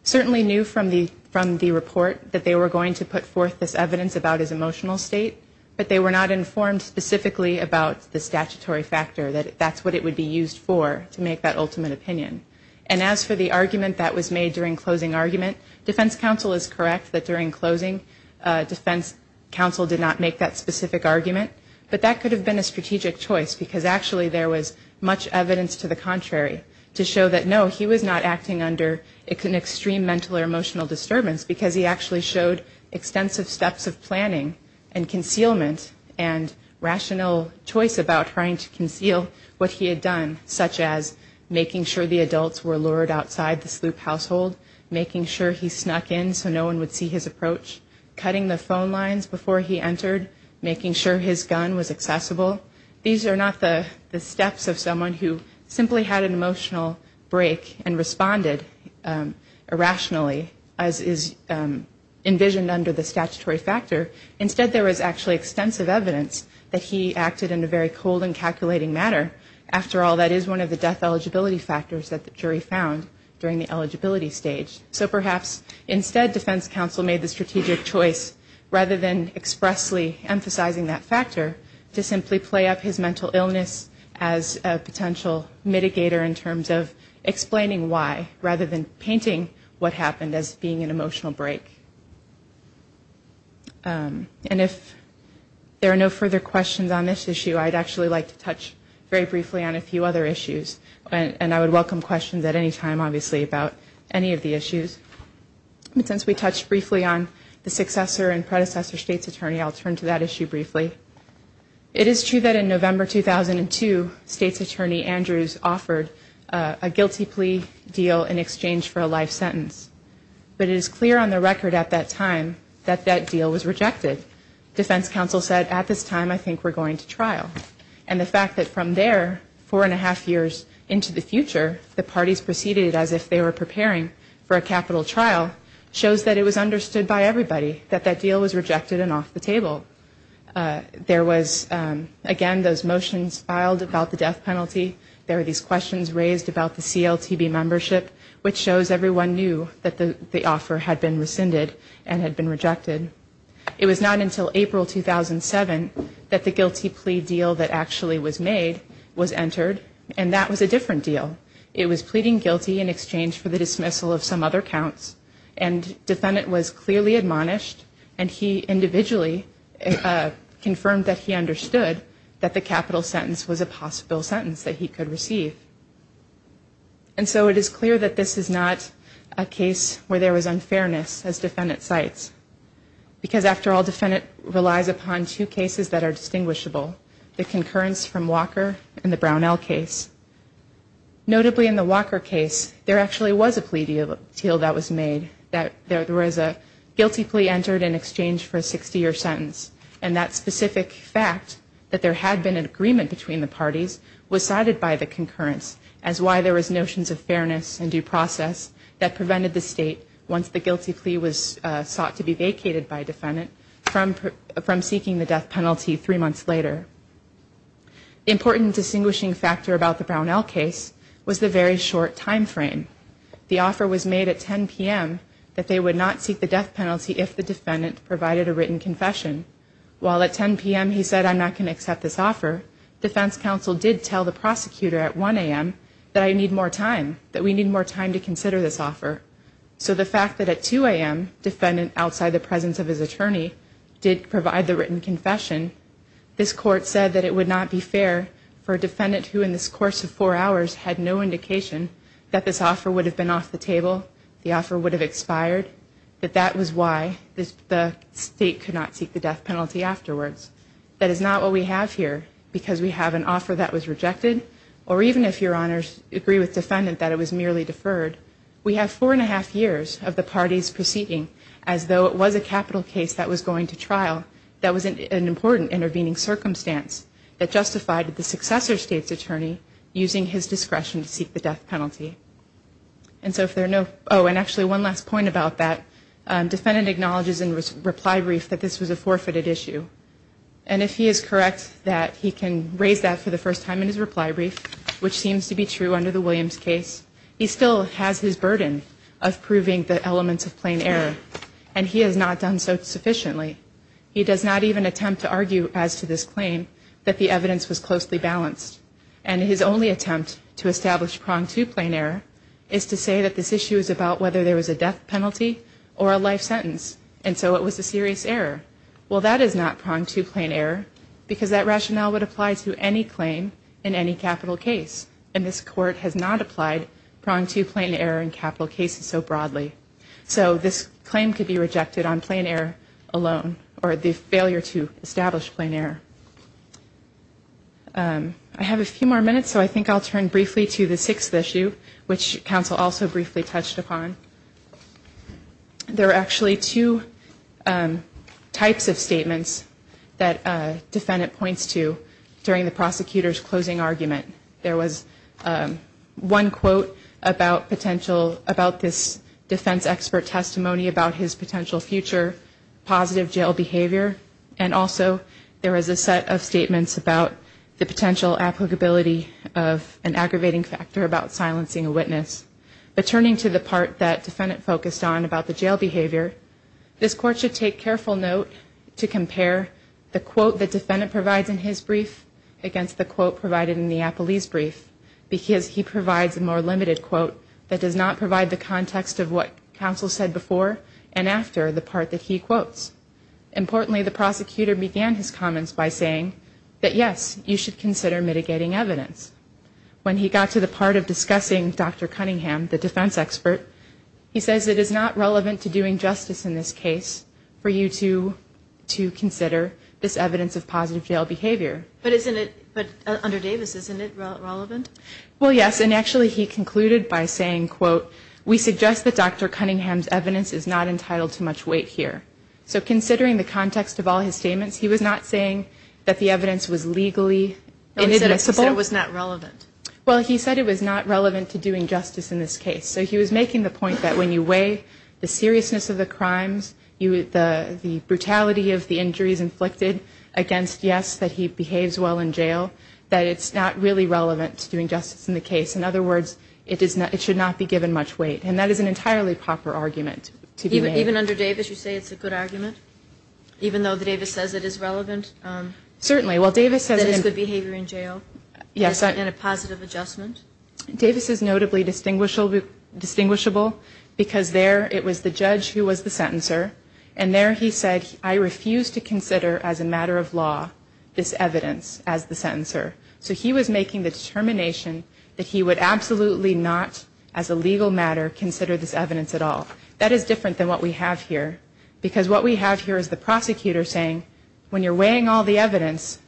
certainly knew from the report that they were going to put forth this evidence about his emotional state, but they were not informed specifically about the statutory factor, that that's what it would be used for to make that ultimate opinion. And as for the argument that was made during closing argument, defense counsel is correct that during closing defense counsel did not make that specific argument, but that could have been a strategic choice because actually there was much evidence to the contrary to show that, no, he was not acting under an extreme mental or emotional disturbance because he actually showed extensive steps of planning and concealment and rational choice about trying to conceal what he had done, such as making sure the adults were lured outside the sloop household, making sure he snuck in so no one would see his approach, cutting the phone lines before he entered, making sure his gun was accessible. These are not the steps of someone who simply had an emotional break and responded irrationally, as is envisioned under the statutory factor. Instead, there was actually extensive evidence that he acted in a very cold and calculating manner. After all, that is one of the death eligibility factors that the jury found during the eligibility stage. So perhaps instead defense counsel made the strategic choice, rather than expressly emphasizing that factor, to simply play up his mental illness as a potential mitigator in terms of explaining why, rather than painting what happened as being an emotional break. And if there are no further questions on this issue, I'd actually like to touch very briefly on a few other issues, and I would welcome questions at any time, obviously, about any of the issues. Since we touched briefly on the successor and predecessor state's attorney, I'll turn to that issue briefly. It is true that in November 2002, state's attorney Andrews offered a guilty plea deal in exchange for a life sentence. But it is clear on the record at that time that that deal was rejected. Defense counsel said, at this time, I think we're going to trial. And the fact that from there, four and a half years into the future, the parties proceeded as if they were preparing for a capital trial, shows that it was understood by everybody that that deal was rejected and off the table. There was, again, those motions filed about the death penalty. There were these questions raised about the CLTB membership, which shows everyone knew that the offer had been rescinded and had been rejected. It was not until April 2007 that the guilty plea deal that actually was made was entered, and that was a different deal. It was pleading guilty in exchange for the dismissal of some other counts, and defendant was clearly admonished, and he individually confirmed that he understood that the capital sentence was a possible sentence that he could receive. And so it is clear that this is not a case where there was unfairness, as defendant cites, because, after all, the Senate relies upon two cases that are distinguishable, the concurrence from Walker and the Brownell case. Notably, in the Walker case, there actually was a plea deal that was made, that there was a guilty plea entered in exchange for a 60-year sentence, and that specific fact, that there had been an agreement between the parties, was cited by the concurrence as why there was notions of fairness and due process that prevented the state, once the guilty plea was thought to be vacated by defendant, from seeking the death penalty three months later. The important distinguishing factor about the Brownell case was the very short time frame. The offer was made at 10 p.m. that they would not seek the death penalty if the defendant provided a written confession. While at 10 p.m. he said, I'm not going to accept this offer, defense counsel did tell the prosecutor at 1 a.m. that I need more time, that we need more time to consider this offer. So the fact that at 2 a.m., defendant, outside the presence of his attorney, did provide the written confession, this court said that it would not be fair for a defendant who in this course of four hours had no indication that this offer would have been off the table, the offer would have expired, that that was why the state could not seek the death penalty afterwards. That is not what we have here, because we have an offer that was rejected, or even if your honors agree with defendant that it was merely deferred, we have four and a half years of the parties proceeding, as though it was a capital case that was going to trial, that was an important intervening circumstance that justified the successor state's attorney using his discretion to seek the death penalty. And so if there are no, oh, and actually one last point about that, defendant acknowledges in reply brief that this was a forfeited issue, and if he is correct that he can raise that for the first time in his reply brief, which seems to be true under the Williams case, he still has his burden of proving the elements of plain error, and he has not done so sufficiently. He does not even attempt to argue as to this claim that the evidence was closely balanced, and his only attempt to establish pronged two-plane error is to say that this issue is about whether there was a death penalty or a life sentence, and so it was a serious error. Well, that is not pronged two-plane error, because that rationale would apply to any claim in any capital case, and this court has not applied pronged two-plane error in capital cases so broadly. So this claim could be rejected on plain error alone, or the failure to establish plain error. I have a few more minutes, so I think I'll turn briefly to the sixth issue, which counsel also briefly touched upon. There are actually two types of statements that the defendant points to during the prosecutor's closing argument. There was one quote about this defense expert testimony about his potential future positive jail behavior, and also there was a set of statements about the potential applicability of an aggravating factor about silencing a witness. But turning to the part that the defendant focused on about the jail behavior, this court should take careful note to compare the quote the defendant provides in his brief against the quote provided in the appellee's brief, because he provides a more limited quote that does not provide the context of what counsel said before and after the part that he quotes. Importantly, the prosecutor began his comments by saying that, yes, you should consider mitigating evidence. When he got to the part of discussing Dr. Cunningham, the defense expert, he says it is not relevant to doing justice in this case for you to consider this evidence of positive jail behavior. But under Davis, isn't it relevant? Well, yes, and actually he concluded by saying, quote, we suggest that Dr. Cunningham's evidence is not entitled to much weight here. So considering the context of all his statements, he was not saying that the evidence was legally inadmissible. He said it was not relevant. Well, he said it was not relevant to doing justice in this case. So he was making the point that when you weigh the seriousness of the crimes, the brutality of the injuries inflicted against, yes, that he behaves well in jail, that it's not really relevant to doing justice in the case. In other words, it should not be given much weight. And that is an entirely proper argument to be made. Even under Davis, you say it's a good argument, even though Davis says it is relevant? Certainly. Well, Davis said it's a good behavior in jail and a positive adjustment. Davis is notably distinguishable because there it was the judge who was the sentencer, and there he said, I refuse to consider as a matter of law this evidence as the sentencer. So he was making the determination that he would absolutely not, as a legal matter, consider this evidence at all. That is different than what we have here because what we have here is the prosecutor saying, when you're weighing all the evidence,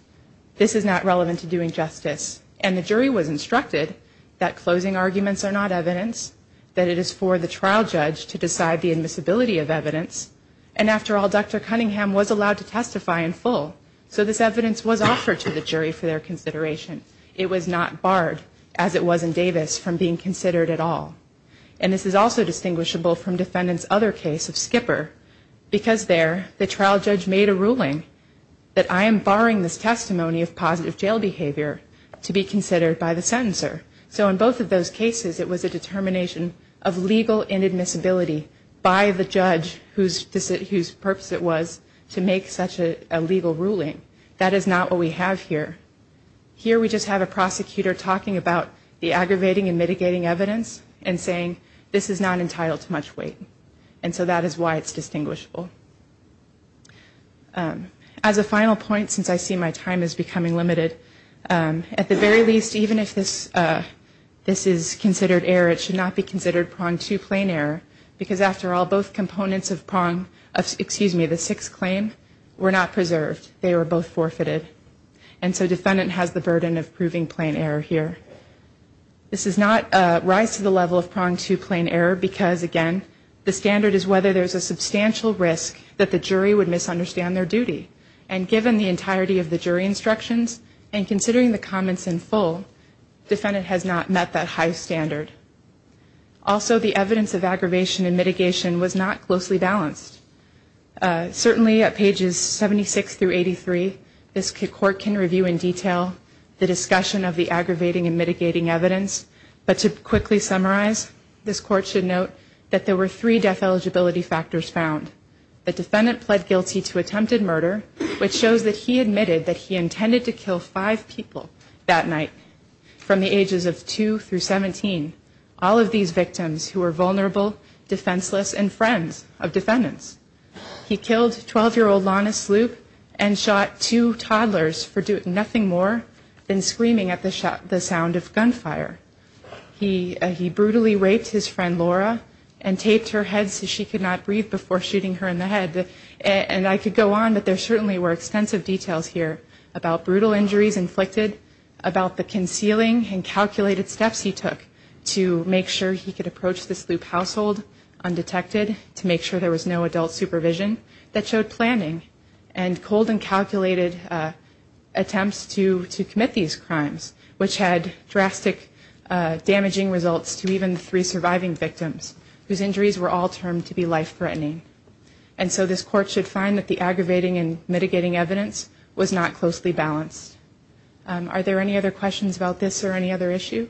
this is not relevant to doing justice. And the jury was instructed that closing arguments are not evidence, that it is for the trial judge to decide the admissibility of evidence. And after all, Dr. Cunningham was allowed to testify in full, so this evidence was offered to the jury for their consideration. It was not barred, as it was in Davis, from being considered at all. And this is also distinguishable from defendant's other case of Skipper because there the trial judge made a ruling that I am barring this testimony of positive jail behavior to be considered by the sentencer. So in both of those cases, it was a determination of legal inadmissibility by the judge whose purpose it was to make such a legal ruling. That is not what we have here. Here we just have a prosecutor talking about the aggravating and mitigating evidence and saying this is not entitled to much weight. And so that is why it's distinguishable. As a final point, since I see my time is becoming limited, at the very least, even if this is considered error, it should not be considered pronged to plain error because, after all, both components of the sixth claim were not preserved. They were both forfeited. And so defendant has the burden of proving plain error here. This does not rise to the level of pronged to plain error because, again, the standard is whether there is a substantial risk that the jury would misunderstand their duty. And given the entirety of the jury instructions and considering the comments in full, defendant has not met that high standard. Also, the evidence of aggravation and mitigation was not closely balanced. Certainly at pages 76 through 83, this court can review in detail the discussion of the aggravating and mitigating evidence, but to quickly summarize, this court should note that there were three death eligibility factors found. The defendant pled guilty to attempted murder, which shows that he admitted that he intended to kill five people that night from the ages of 2 through 17, all of these victims who were vulnerable, defenseless, and friends of defendants. He killed 12-year-old Lana Sluke and shot two toddlers for doing nothing more than screaming at the sound of gunfire. He brutally raped his friend Laura and taped her head so she could not breathe before shooting her in the head. And I could go on, but there certainly were extensive details here about brutal injuries inflicted, about the concealing and calculated steps he took to make sure he could approach the Sluke household undetected, to make sure there was no adult supervision, that showed planning and cold and calculated attempts to commit these crimes, which had drastic damaging results to even three surviving victims, whose injuries were all termed to be life-threatening. And so this court should find that the aggravating and mitigating evidence was not closely balanced. Are there any other questions about this or any other issue?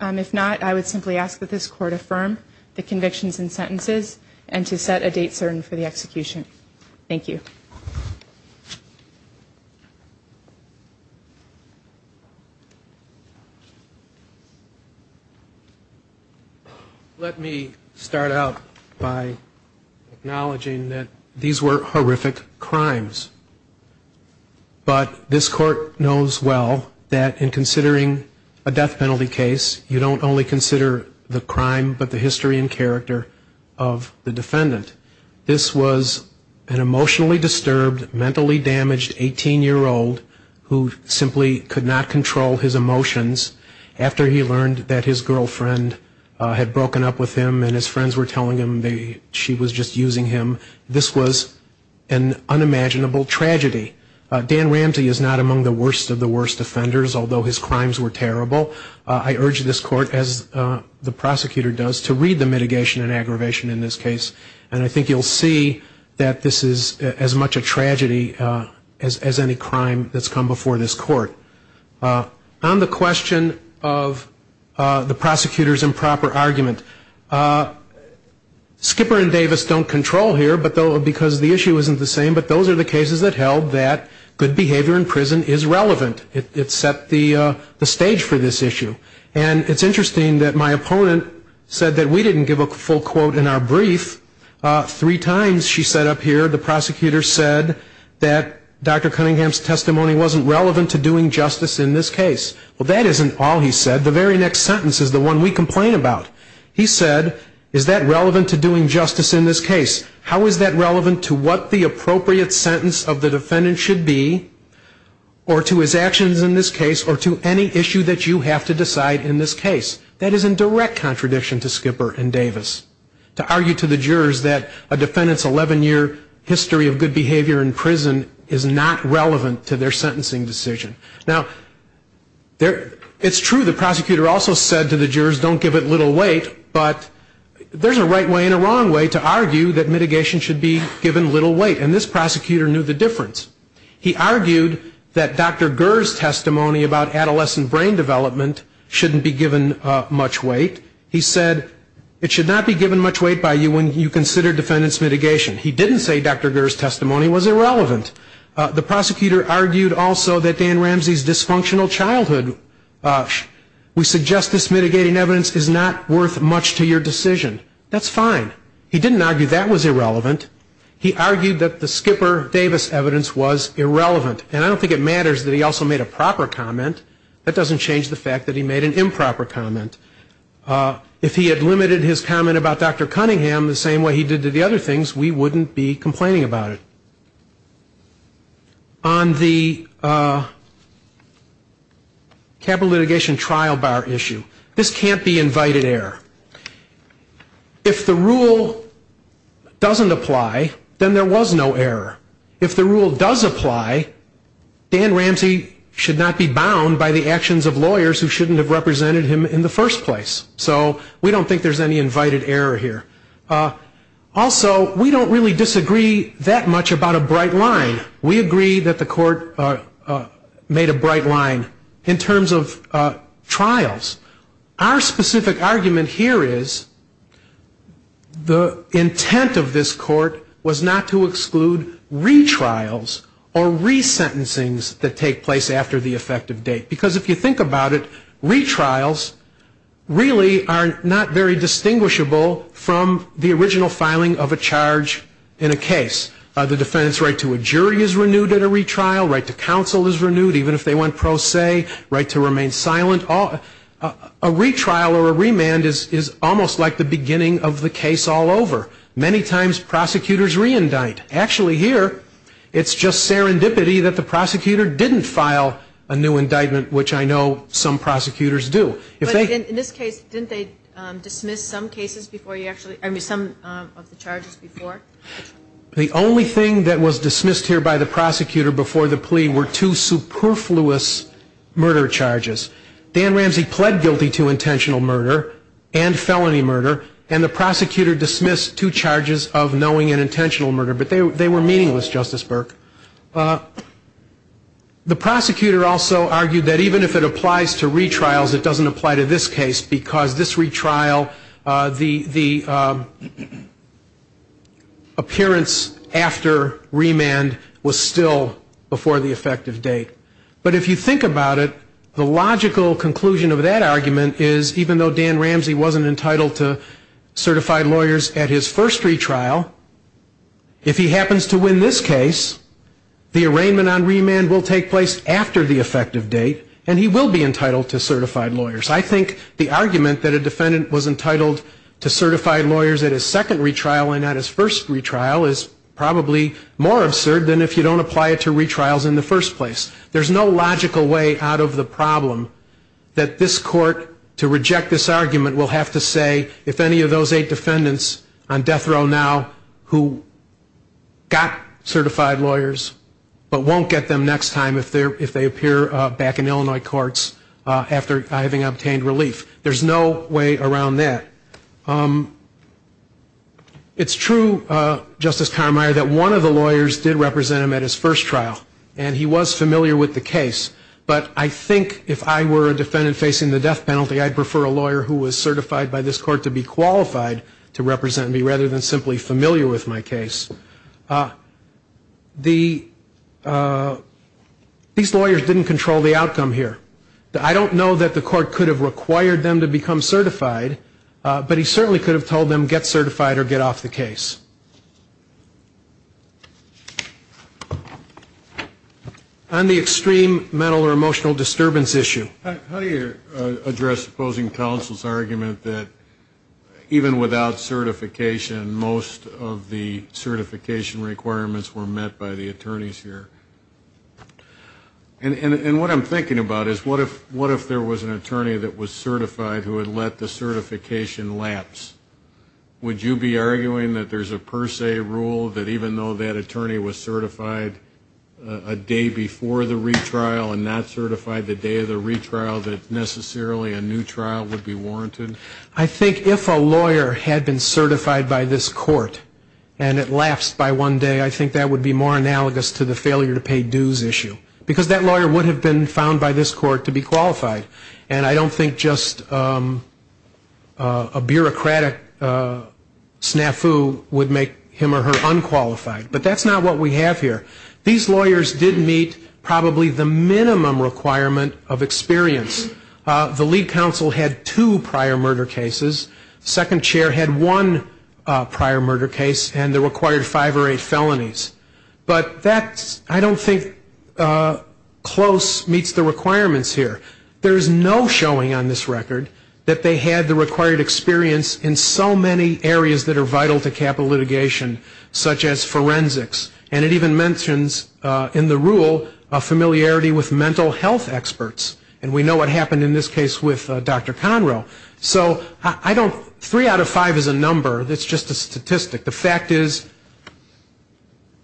If not, I would simply ask that this court affirm the convictions and sentences and to set a date certain for the execution. Thank you. Let me start out by acknowledging that these were horrific crimes. But this court knows well that in considering a death penalty case, you don't only consider the crime but the history and character of the defendant. This was an emotionally disturbed, mentally damaged 18-year-old who simply could not control his emotions after he learned that his girlfriend had broken up with him and his friends were telling him maybe she was just using him. This was an unimaginable tragedy. Dan Ramsey is not among the worst of the worst offenders, although his crimes were terrible. I urge this court, as the prosecutor does, to read the mitigation and aggravation in this case. And I think you'll see that this is as much a tragedy as any crime that's come before this court. On the question of the prosecutor's improper argument, Skipper and Davis don't control here because the issue isn't the same, but those are the cases that held that good behavior in prison is relevant. It set the stage for this issue. And it's interesting that my opponent said that we didn't give a full quote in our brief. Three times, she said up here, the prosecutor said that Dr. Cunningham's testimony wasn't relevant to doing justice in this case. Well, that isn't all he said. The very next sentence is the one we complain about. He said, is that relevant to doing justice in this case? How is that relevant to what the appropriate sentence of the defendant should be, or to his actions in this case, or to any issue that you have to decide in this case? That is in direct contradiction to Skipper and Davis, to argue to the jurors that a defendant's 11-year history of good behavior in prison is not relevant to their sentencing decision. Now, it's true the prosecutor also said to the jurors, don't give it little weight, but there's a right way and a wrong way to argue that mitigation should be given little weight. And this prosecutor knew the difference. He argued that Dr. Gurr's testimony about adolescent brain development shouldn't be given much weight. He said it should not be given much weight by you when you consider defendant's mitigation. He didn't say Dr. Gurr's testimony was irrelevant. We suggest this mitigating evidence is not worth much to your decision. That's fine. He didn't argue that was irrelevant. He argued that the Skipper-Davis evidence was irrelevant. And I don't think it matters that he also made a proper comment. That doesn't change the fact that he made an improper comment. If he had limited his comment about Dr. Cunningham the same way he did to the other things, we wouldn't be complaining about it. On the capital litigation trial bar issue, this can't be invited error. If the rule doesn't apply, then there was no error. If the rule does apply, Dan Ramsey should not be bound by the actions of lawyers who shouldn't have represented him in the first place. So we don't think there's any invited error here. Also, we don't really disagree that much about a bright line. We agree that the court made a bright line in terms of trials. Our specific argument here is the intent of this court was not to exclude retrials or resentencings that take place after the effective date. Because if you think about it, retrials really are not very distinguishable from the original filing of a charge in a case. The defendant's right to a jury is renewed at a retrial, right to counsel is renewed, even if they went pro se, right to remain silent. A retrial or a remand is almost like the beginning of the case all over. Many times prosecutors reindict. Actually here, it's just serendipity that the prosecutor didn't file a new indictment, which I know some prosecutors do. In this case, didn't they dismiss some of the charges before? The only thing that was dismissed here by the prosecutor before the plea were two superfluous murder charges. Dan Ramsey pled guilty to intentional murder and felony murder, and the prosecutor dismissed two charges of knowing and intentional murder. But they were meaningless, Justice Burke. The prosecutor also argued that even if it applies to retrials, it doesn't apply to this case because this retrial, the appearance after remand was still before the effective date. But if you think about it, the logical conclusion of that argument is, even though Dan Ramsey wasn't entitled to certified lawyers at his first retrial, if he happens to win this case, the arraignment on remand will take place after the effective date, and he will be entitled to certified lawyers. I think the argument that a defendant was entitled to certified lawyers at his second retrial and not his first retrial is probably more absurd than if you don't apply it to retrials in the first place. There's no logical way out of the problem that this court, to reject this argument, will have to say if any of those eight defendants on death row now who got certified lawyers but won't get them next time if they appear back in Illinois courts after having obtained relief. There's no way around that. It's true, Justice Conroy, that one of the lawyers did represent him at his first trial, and he was familiar with the case. But I think if I were a defendant facing the death penalty, I'd prefer a lawyer who was certified by this court to be qualified to represent me rather than simply familiar with my case. These lawyers didn't control the outcome here. I don't know that the court could have required them to become certified, but he certainly could have told them get certified or get off the case. On the extreme mental or emotional disturbance issue, how do you address opposing counsel's argument that even without certification, most of the certification requirements were met by the attorneys here? And what I'm thinking about is what if there was an attorney that was certified who had let the certification lapse? Would you be arguing that there's a per se rule that even though that attorney was certified a day before the retrial and not certified the day of the retrial, that necessarily a new trial would be warranted? I think if a lawyer had been certified by this court and it lapsed by one day, I think that would be more analogous to the failure to pay dues issue because that lawyer would have been found by this court to be qualified. And I don't think just a bureaucratic snafu would make him or her unqualified. But that's not what we have here. These lawyers did meet probably the minimum requirement of experience. The lead counsel had two prior murder cases. The second chair had one prior murder case, and they required five or eight felonies. But that I don't think close meets the requirements here. There's no showing on this record that they had the required experience in so many areas that are vital to capital litigation, such as forensics. And it even mentions in the rule a familiarity with mental health experts. And we know what happened in this case with Dr. Conroe. So three out of five is a number. It's just a statistic. The fact is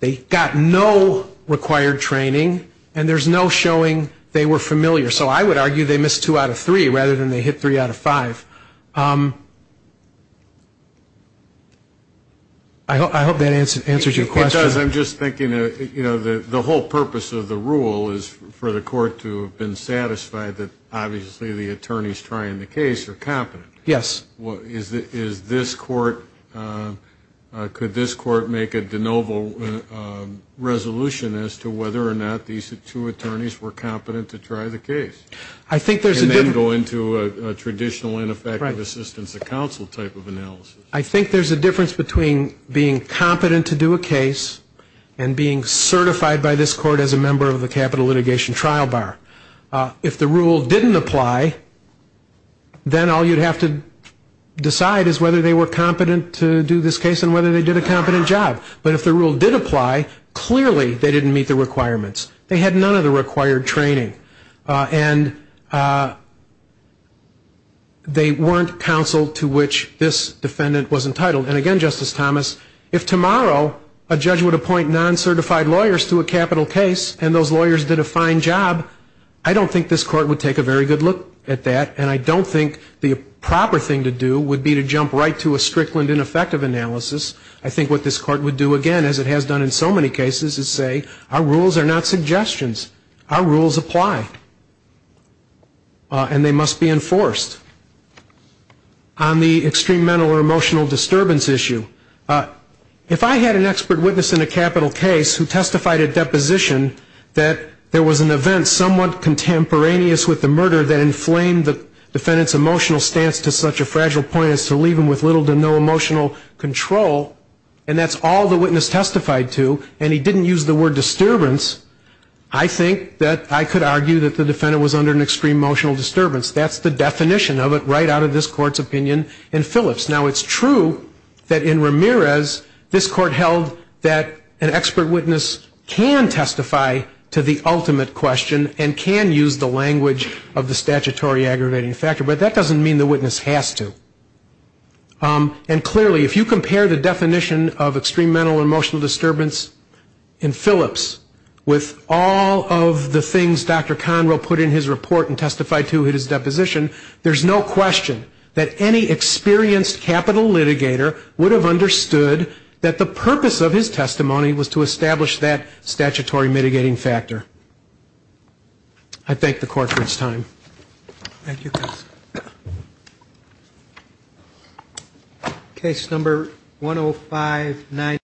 they got no required training, and there's no showing they were familiar. So I would argue they missed two out of three rather than they hit three out of five. I hope that answers your question. It does. I'm just thinking, you know, the whole purpose of the rule is for the court to have been satisfied that obviously the attorneys trying the case are competent. Yes. Could this court make a de novo resolution as to whether or not these two attorneys were competent to try the case? I think there's a difference. And then go into a traditional ineffective assistance of counsel type of analysis. I think there's a difference between being competent to do a case and being certified by this court as a member of the capital litigation trial bar. If the rule didn't apply, then all you'd have to decide is whether they were competent to do this case and whether they did a competent job. But if the rule did apply, clearly they didn't meet the requirements. They had none of the required training. And they weren't counsel to which this defendant was entitled. And again, Justice Thomas, if tomorrow a judge would appoint non-certified lawyers to a capital case and those lawyers did a fine job, I don't think this court would take a very good look at that, and I don't think the proper thing to do would be to jump right to a strict and ineffective analysis. I think what this court would do again, as it has done in so many cases, is say, our rules are not suggestions. Our rules apply. And they must be enforced. On the extreme mental or emotional disturbance issue, if I had an expert witness in a capital case who testified at deposition that there was an event somewhat contemporaneous with the murder that inflamed the defendant's emotional stance to such a fragile point as to leave him with little to no emotional control, and that's all the witness testified to, and he didn't use the word disturbance, I think that I could argue that the defendant was under an extreme emotional disturbance. That's the definition of it right out of this court's opinion in Phillips. Now, it's true that in Ramirez, this court held that an expert witness can testify to the ultimate question and can use the language of the statutory aggravating factor, but that doesn't mean the witness has to. And clearly, if you compare the definition of extreme mental or emotional disturbance in Phillips with all of the things Dr. Conroe put in his report and testified to at his deposition, there's no question that any experienced capital litigator would have understood that the purpose of his testimony was to establish that statutory mitigating factor. I thank the court this time. Thank you.